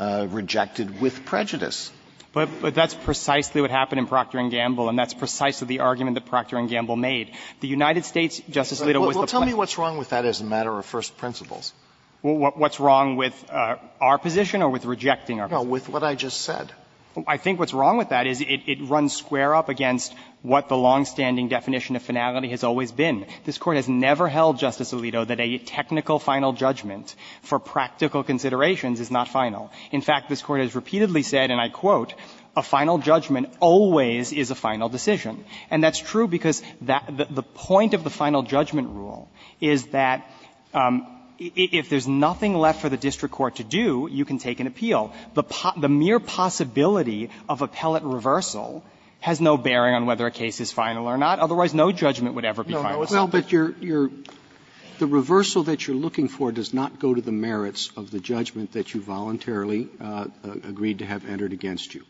rejected with prejudice. But that's precisely what happened in Procter & Gamble, and that's precisely the argument that Procter & Gamble made. The United States, Justice Alito, was the place to say that. Well, tell me what's wrong with that as a matter of first principles. What's wrong with our position or with rejecting our position? No, with what I just said. I think what's wrong with that is it runs square up against what the longstanding definition of finality has always been. This Court has never held, Justice Alito, that a technical final judgment for practical considerations is not final. In fact, this Court has repeatedly said, and I quote, a final judgment always is a final decision. And that's true because that – the point of the final judgment rule is that if there's nothing left for the district court to do, you can take an appeal. The mere possibility of appellate reversal has no bearing on whether a case is final or not. Otherwise, no judgment would ever be final. Roberts. Well, but you're – the reversal that you're looking for does not go to the merits of the judgment that you voluntarily agreed to have entered against you.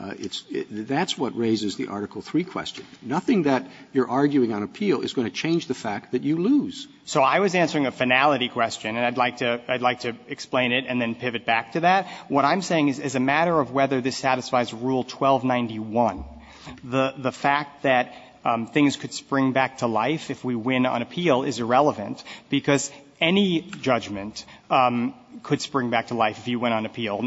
It's – that's what raises the Article III question. Nothing that you're arguing on appeal is going to change the fact that you lose. So I was answering a finality question, and I'd like to – I'd like to explain it and then pivot back to that. What I'm saying is, as a matter of whether this satisfies Rule 1291, the fact that things could spring back to life if we win on appeal is irrelevant, because any judgment could spring back to life if you win on appeal.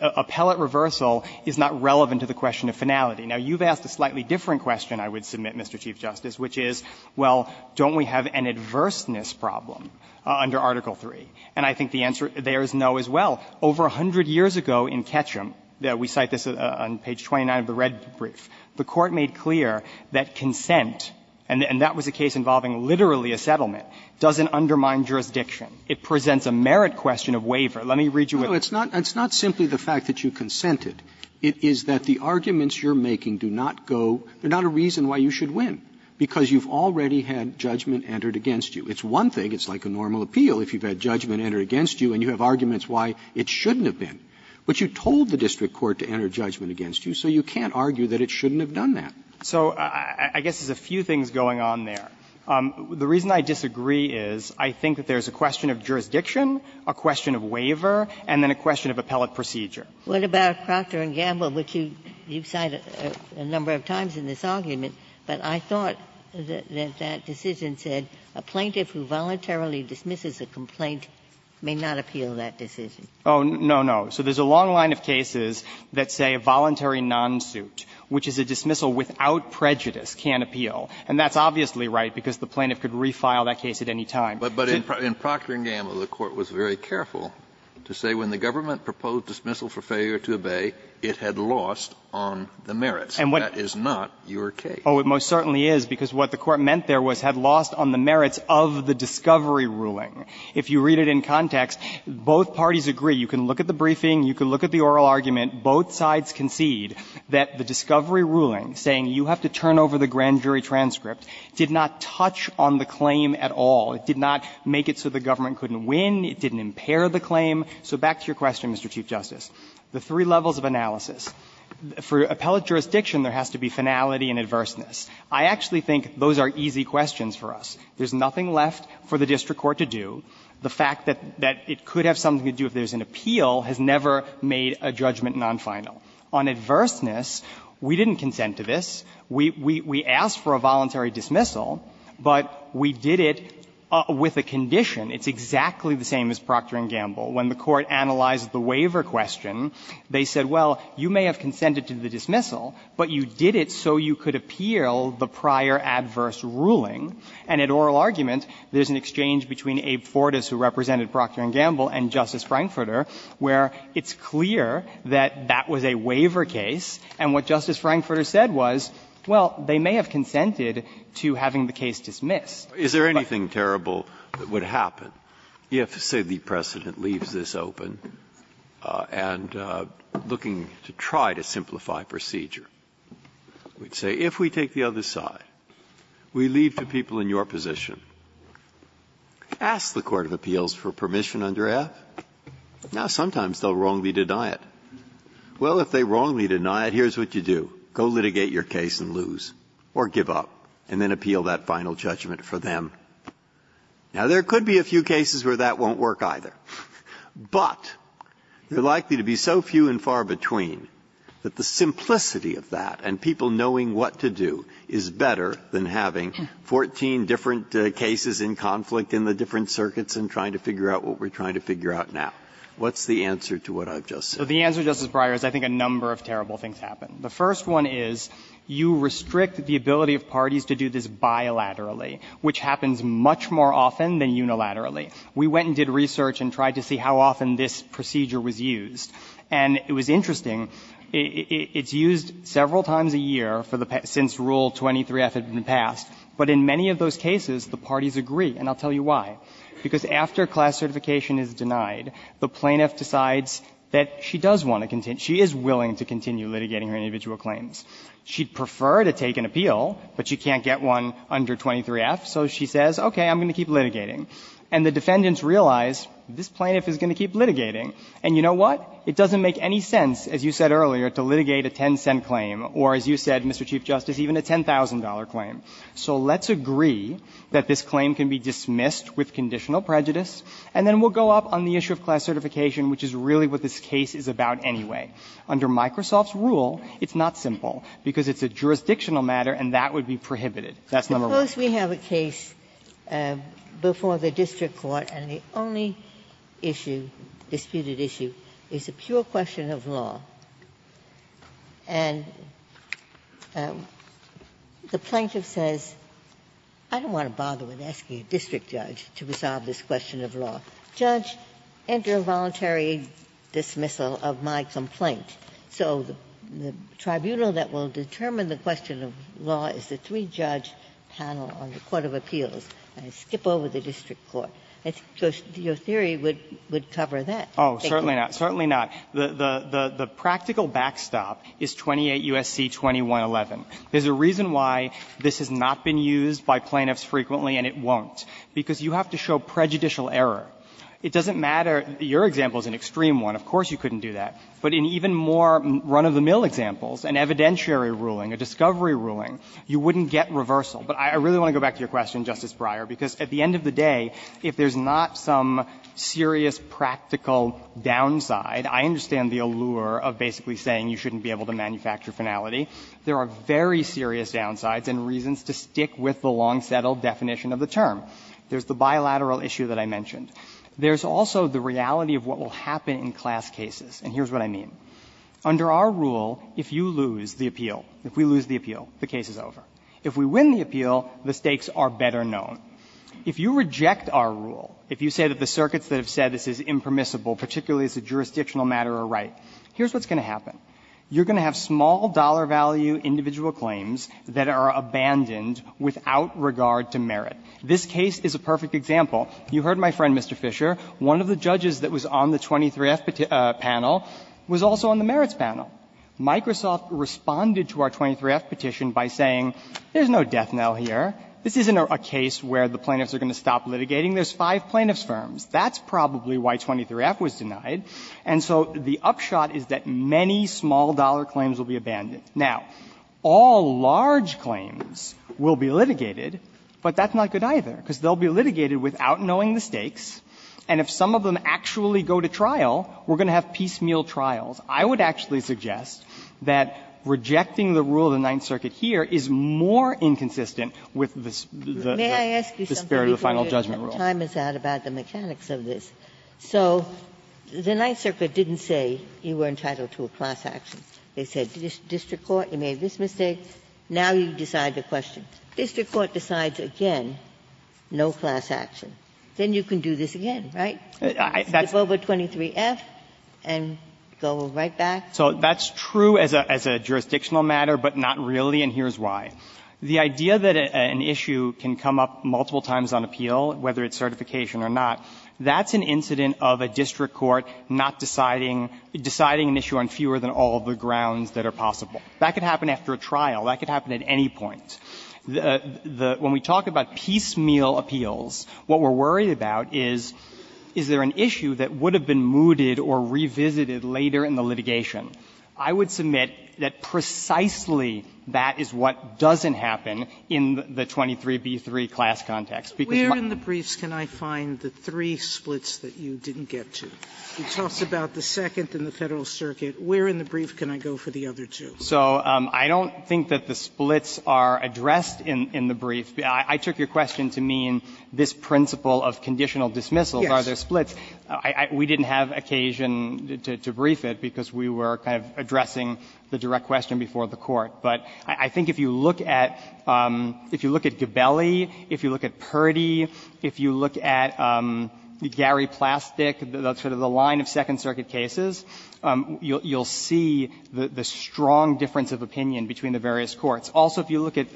Appellate reversal is not relevant to the question of finality. Now, you've asked a slightly different question, I would submit, Mr. Chief Justice, which is, well, don't we have an adverseness problem under Article III? And I think the answer there is no as well. Over 100 years ago in Ketcham – we cite this on page 29 of the red brief – the fact that consent, and that was a case involving literally a settlement, doesn't undermine jurisdiction. It presents a merit question of waiver. Let me read you what it says. Roberts, It's not – it's not simply the fact that you consented. It is that the arguments you're making do not go – there's not a reason why you should win, because you've already had judgment entered against you. It's one thing, it's like a normal appeal, if you've had judgment entered against you and you have arguments why it shouldn't have been. But you told the district court to enter judgment against you, so you can't argue that it shouldn't have done that. So I guess there's a few things going on there. The reason I disagree is I think that there's a question of jurisdiction, a question of waiver, and then a question of appellate procedure. Ginsburg. What about Procter & Gamble, which you've cited a number of times in this argument, but I thought that that decision said a plaintiff who voluntarily dismisses a complaint may not appeal that decision. Oh, no, no. So there's a long line of cases that say a voluntary non-suit, which is a dismissal without prejudice, can't appeal. And that's obviously right, because the plaintiff could refile that case at any time. But in Procter & Gamble, the Court was very careful to say when the government proposed dismissal for failure to obey, it had lost on the merits. And what — That is not your case. Oh, it most certainly is, because what the Court meant there was had lost on the merits of the discovery ruling. If you read it in context, both parties agree. You can look at the briefing, you can look at the oral argument. Both sides concede that the discovery ruling, saying you have to turn over the grand jury transcript, did not touch on the claim at all. It did not make it so the government couldn't win, it didn't impair the claim. So back to your question, Mr. Chief Justice, the three levels of analysis. For appellate jurisdiction, there has to be finality and adverseness. I actually think those are easy questions for us. There's nothing left for the district court to do. The fact that it could have something to do if there's an appeal has never made a judgment non-final. On adverseness, we didn't consent to this. We asked for a voluntary dismissal, but we did it with a condition. It's exactly the same as Procter & Gamble. When the Court analyzed the waiver question, they said, well, you may have consented to the dismissal, but you did it so you could appeal the prior adverse ruling. And in oral argument, there's an exchange between Abe Fortas, who represented that was a waiver case, and what Justice Frankfurter said was, well, they may have consented to having the case dismissed. Breyer. Is there anything terrible that would happen if, say, the precedent leaves this open and looking to try to simplify procedure, we'd say, if we take the other side, we leave the people in your position, ask the court of appeals for permission under F. Now, sometimes they'll wrongly deny it. Well, if they wrongly deny it, here's what you do. Go litigate your case and lose, or give up, and then appeal that final judgment for them. Now, there could be a few cases where that won't work either. But they're likely to be so few and far between that the simplicity of that and people knowing what to do is better than having 14 different cases in conflict in the different circuits and trying to figure out what we're trying to figure out now. What's the answer to what I've just said? So the answer, Justice Breyer, is I think a number of terrible things happen. The first one is you restrict the ability of parties to do this bilaterally, which happens much more often than unilaterally. We went and did research and tried to see how often this procedure was used. And it was interesting. It's used several times a year since Rule 23F had been passed. But in many of those cases, the parties agree, and I'll tell you why. Because after class certification is denied, the plaintiff decides that she does want to continue, she is willing to continue litigating her individual claims. She'd prefer to take an appeal, but she can't get one under 23F, so she says, okay, I'm going to keep litigating. And the defendants realize this plaintiff is going to keep litigating. And you know what? It doesn't make any sense, as you said earlier, to litigate a 10-cent claim or, as you said, Mr. Chief Justice, even a $10,000 claim. So let's agree that this claim can be dismissed with conditional prejudice, and then we'll go up on the issue of class certification, which is really what this case is about anyway. Under Microsoft's rule, it's not simple, because it's a jurisdictional matter and that would be prohibited. That's number one. Ginsburg. Suppose we have a case before the district court and the only issue, disputed issue, is a pure question of law. And the plaintiff says, I don't want to bother with asking a district judge to resolve this question of law. Judge, enter a voluntary dismissal of my complaint. So the tribunal that will determine the question of law is the three-judge panel on the court of appeals. I skip over the district court. I think your theory would cover that. Oh, certainly not. Certainly not. The practical backstop is 28 U.S.C. 2111. There's a reason why this has not been used by plaintiffs frequently and it won't, because you have to show prejudicial error. It doesn't matter your example is an extreme one. Of course you couldn't do that. But in even more run-of-the-mill examples, an evidentiary ruling, a discovery ruling, you wouldn't get reversal. But I really want to go back to your question, Justice Breyer, because at the end of the day, if there's not some serious practical downside, I understand the allure of basically saying you shouldn't be able to manufacture finality. There are very serious downsides and reasons to stick with the long-settled definition of the term. There's the bilateral issue that I mentioned. There's also the reality of what will happen in class cases, and here's what I mean. Under our rule, if you lose the appeal, if we lose the appeal, the case is over. If we win the appeal, the stakes are better known. If you reject our rule, if you say that the circuits that have said this is impermissible, particularly as a jurisdictional matter, are right, here's what's going to happen. You're going to have small dollar value individual claims that are abandoned without regard to merit. This case is a perfect example. You heard my friend, Mr. Fisher. One of the judges that was on the 23F panel was also on the merits panel. Microsoft responded to our 23F petition by saying, there's no death knell here. This isn't a case where the plaintiffs are going to stop litigating. There's five plaintiffs' firms. That's probably why 23F was denied. And so the upshot is that many small-dollar claims will be abandoned. Now, all large claims will be litigated, but that's not good either, because they'll be litigated without knowing the stakes, and if some of them actually go to trial, we're going to have piecemeal trials. I would actually suggest that rejecting the rule of the Ninth Circuit here is more inconsistent with the spirit of the final judgment rule. May I ask you something before your time is out about the mechanics of this? So the Ninth Circuit didn't say you were entitled to a class action. They said, District Court, you made this mistake. Now you decide the question. District Court decides again, no class action. Then you can do this again, right? That's over 23F and go right back. So that's true as a jurisdictional matter, but not really, and here's why. The idea that an issue can come up multiple times on appeal, whether it's certification or not, that's an incident of a district court not deciding an issue on fewer than all of the grounds that are possible. That could happen after a trial. That could happen at any point. When we talk about piecemeal appeals, what we're worried about is, is there an issue that would have been mooted or revisited later in the litigation? I would submit that precisely that is what doesn't happen in the 23B3 class context. Sotomayor, where in the briefs can I find the three splits that you didn't get to? You talked about the Second and the Federal Circuit. Where in the brief can I go for the other two? So I don't think that the splits are addressed in the brief. I took your question to mean this principle of conditional dismissal. Are there splits? We didn't have occasion to brief it because we were kind of addressing the direct question before the Court. But I think if you look at Gabelli, if you look at Purdy, if you look at Gary Plastick, sort of the line of Second Circuit cases, you'll see the strong difference of opinion between the various courts. Also, if you look at,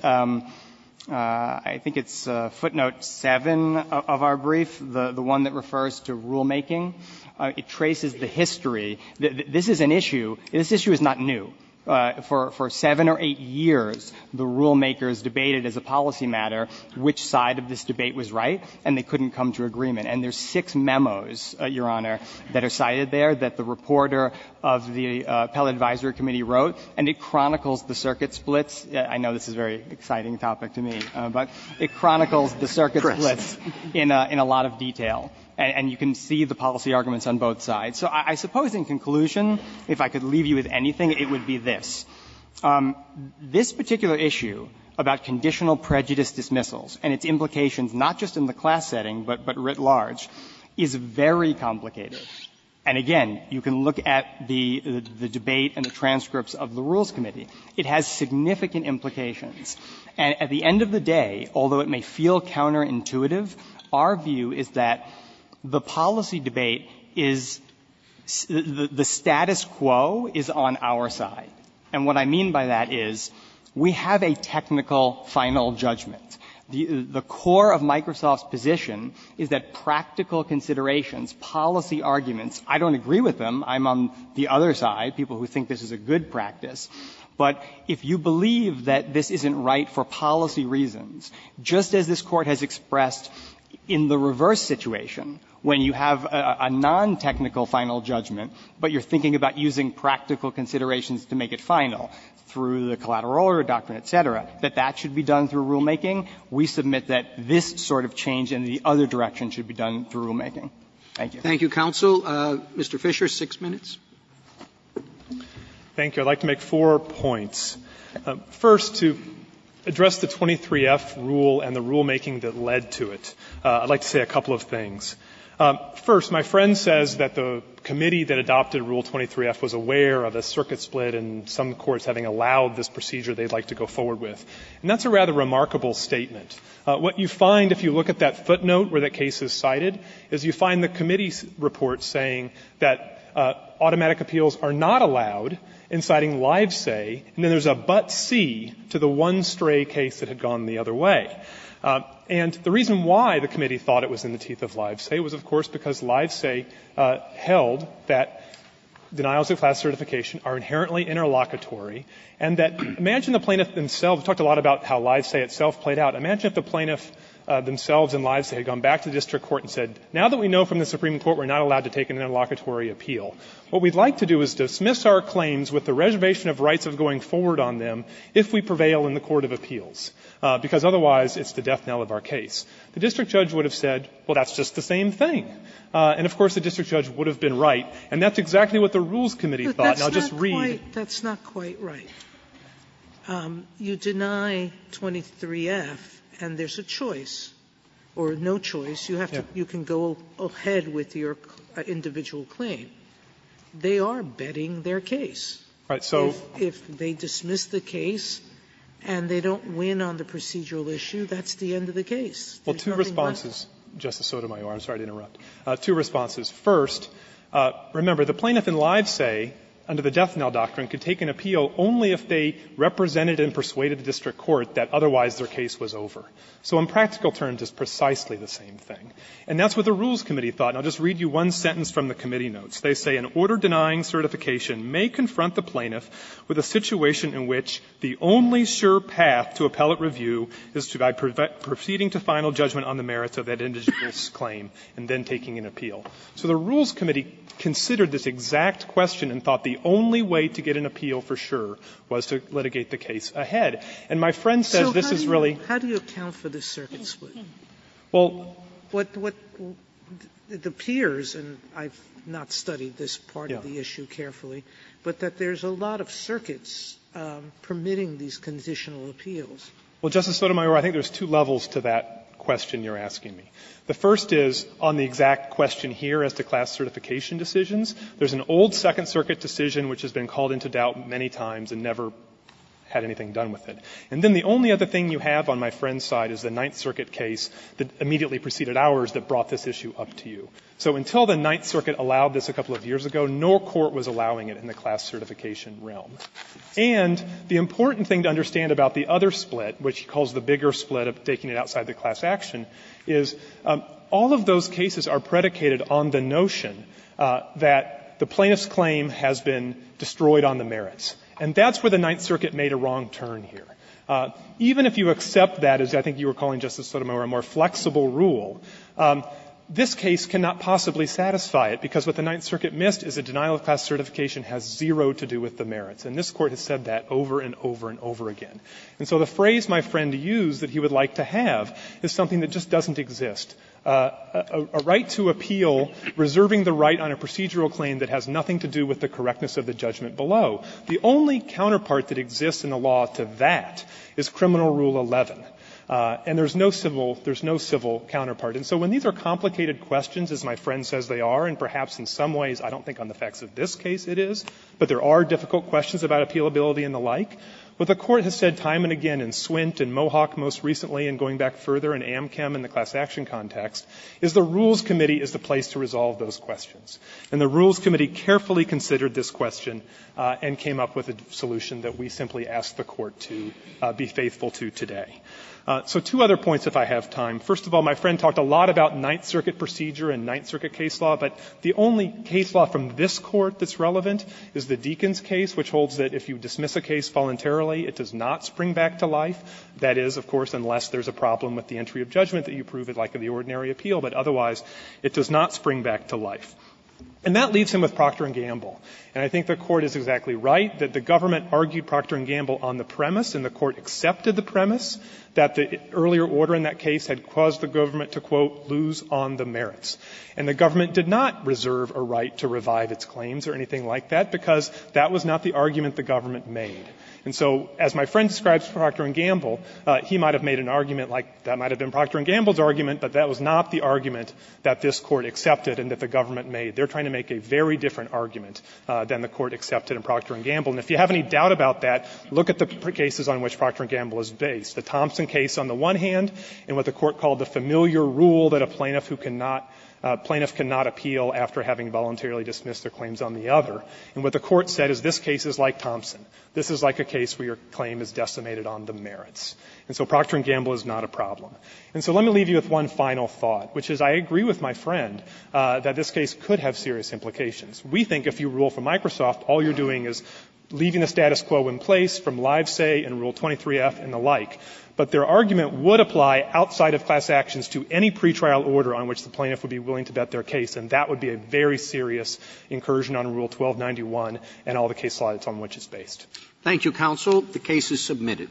I think it's footnote 7 of our brief, the one that refers to rulemaking, it traces the history. This is an issue, this issue is not new. For 7 or 8 years, the rulemakers debated as a policy matter which side of this debate was right, and they couldn't come to agreement. And there's six memos, Your Honor, that are cited there that the reporter of the Appellate Advisory Committee wrote, and it chronicles the circuit splits. I know this is a very exciting topic to me, but it chronicles the circuit splits in a lot of detail. And you can see the policy arguments on both sides. So I suppose in conclusion, if I could leave you with anything, it would be this. This particular issue about conditional prejudice dismissals and its implications not just in the class setting but writ large is very complicated. And again, you can look at the debate and the transcripts of the Rules Committee. It has significant implications. And at the end of the day, although it may feel counterintuitive, our view is that the policy debate is the status quo is on our side. And what I mean by that is we have a technical final judgment. The core of Microsoft's position is that practical considerations, policy arguments – I don't agree with them, I'm on the other side, people who think this is a good practice – but if you believe that this isn't right for policy reasons, just as this should be done through rulemaking, we submit that this sort of change in the other direction should be done through rulemaking. Thank you. Roberts. Thank you, counsel. Mr. Fisher, 6 minutes. Fisher, 6 minutes. Fisher, 6 minutes. Thank you. I'd like to make four points. First, to address the 23F rule and the rulemaking that led to it, I'd like to say a couple of things. First, my friend says that the committee that adopted Rule 23F was aware of a circuit split and some courts having allowed this procedure they'd like to go forward with, and that's a rather remarkable statement. What you find, if you look at that footnote where that case is cited, is you find the committee's report saying that automatic appeals are not allowed in citing live say, and then there's a but-see to the one stray case that had gone the other way. And the reason why the committee thought it was in the teeth of live say was, of course, because live say held that denials of classification are inherently interlocutory and that imagine the plaintiff themselves. We talked a lot about how live say itself played out. Imagine if the plaintiff themselves in live say had gone back to the district court and said, now that we know from the Supreme Court we're not allowed to take an interlocutory appeal, what we'd like to do is dismiss our claims with the reservation of rights of going forward on them if we prevail in the court of appeals, because otherwise it's the death knell of our case. The district judge would have said, well, that's just the same thing. And, of course, the district judge would have been right. And that's exactly what the Rules Committee thought. Now, just read. Sotomayor, that's not quite right. You deny 23F and there's a choice, or no choice. You have to go ahead with your individual claim. They are betting their case. Fisherman If they dismiss the case and they don't win on the procedural basis, that's a procedural issue, that's the end of the case. Well, two responses, Justice Sotomayor, I'm sorry to interrupt, two responses. First, remember, the plaintiff in live say, under the death knell doctrine, could take an appeal only if they represented and persuaded the district court that otherwise their case was over. So in practical terms, it's precisely the same thing. And that's what the Rules Committee thought. And I'll just read you one sentence from the committee notes. They say, An order denying certification may confront the plaintiff with a situation in which the only sure path to appellate review is by proceeding to final judgment on the merits of that individual's claim and then taking an appeal. So the Rules Committee considered this exact question and thought the only way to get an appeal for sure was to litigate the case ahead. And my friend says this is really So how do you account for this circuit split? Fisherman Well, what the peers, and I've not studied this part of the issue carefully, but that there's a lot of circuits permitting these conditional appeals. Fisherman Well, Justice Sotomayor, I think there's two levels to that question you're asking me. The first is, on the exact question here as to class certification decisions, there's an old Second Circuit decision which has been called into doubt many times and never had anything done with it. And then the only other thing you have on my friend's side is the Ninth Circuit case that immediately preceded ours that brought this issue up to you. So until the Ninth Circuit allowed this a couple of years ago, no court was allowing it in the class certification realm. And the important thing to understand about the other split, which he calls the bigger split of taking it outside the class action, is all of those cases are predicated on the notion that the plaintiff's claim has been destroyed on the merits. And that's where the Ninth Circuit made a wrong turn here. Even if you accept that, as I think you were calling, Justice Sotomayor, a more flexible rule, this case cannot possibly satisfy it, because what the Ninth Circuit missed is a denial of class certification has zero to do with the merits. And this Court has said that over and over and over again. And so the phrase my friend used that he would like to have is something that just doesn't exist. A right to appeal reserving the right on a procedural claim that has nothing to do with the correctness of the judgment below. The only counterpart that exists in the law to that is Criminal Rule 11. And there's no civil counterpart. And so when these are complicated questions, as my friend says they are, and perhaps in some ways I don't think on the facts of this case it is, but there are difficult questions about appealability and the like, what the Court has said time and again in Swint and Mohawk most recently and going back further in Amchem and the class action context is the Rules Committee is the place to resolve those questions. And the Rules Committee carefully considered this question and came up with a solution that we simply ask the Court to be faithful to today. So two other points if I have time. First of all, my friend talked a lot about Ninth Circuit procedure and Ninth Circuit case law, but the only case law from this Court that's relevant is the Deakins case, which holds that if you dismiss a case voluntarily, it does not spring back to life. That is, of course, unless there's a problem with the entry of judgment that you prove it like in the ordinary appeal, but otherwise it does not spring back to life. And that leaves him with Procter and Gamble. And I think the Court is exactly right that the government argued Procter and Gamble on the premise, and the Court accepted the premise, that the earlier order in that case had caused the government to, quote, lose on the merits. And the government did not reserve a right to revive its claims or anything like that, because that was not the argument the government made. And so as my friend describes Procter and Gamble, he might have made an argument like that might have been Procter and Gamble's argument, but that was not the argument that this Court accepted and that the government made. They're trying to make a very different argument than the Court accepted in Procter and Gamble. And if you have any doubt about that, look at the cases on which Procter and Gamble is based. The Thompson case on the one hand, and what the Court called the familiar rule that a plaintiff who cannot – a plaintiff cannot appeal after having voluntarily dismissed their claims on the other. And what the Court said is this case is like Thompson. This is like a case where your claim is decimated on the merits. And so Procter and Gamble is not a problem. And so let me leave you with one final thought, which is I agree with my friend that this case could have serious implications. We think if you rule for Microsoft, all you're doing is leaving the status quo in place from Live Say and Rule 23F and the like. But their argument would apply outside of class actions to any pretrial order on which the plaintiff would be willing to bet their case, and that would be a very serious incursion on Rule 1291 and all the case slides on which it's based. Roberts. Thank you, counsel. The case is submitted.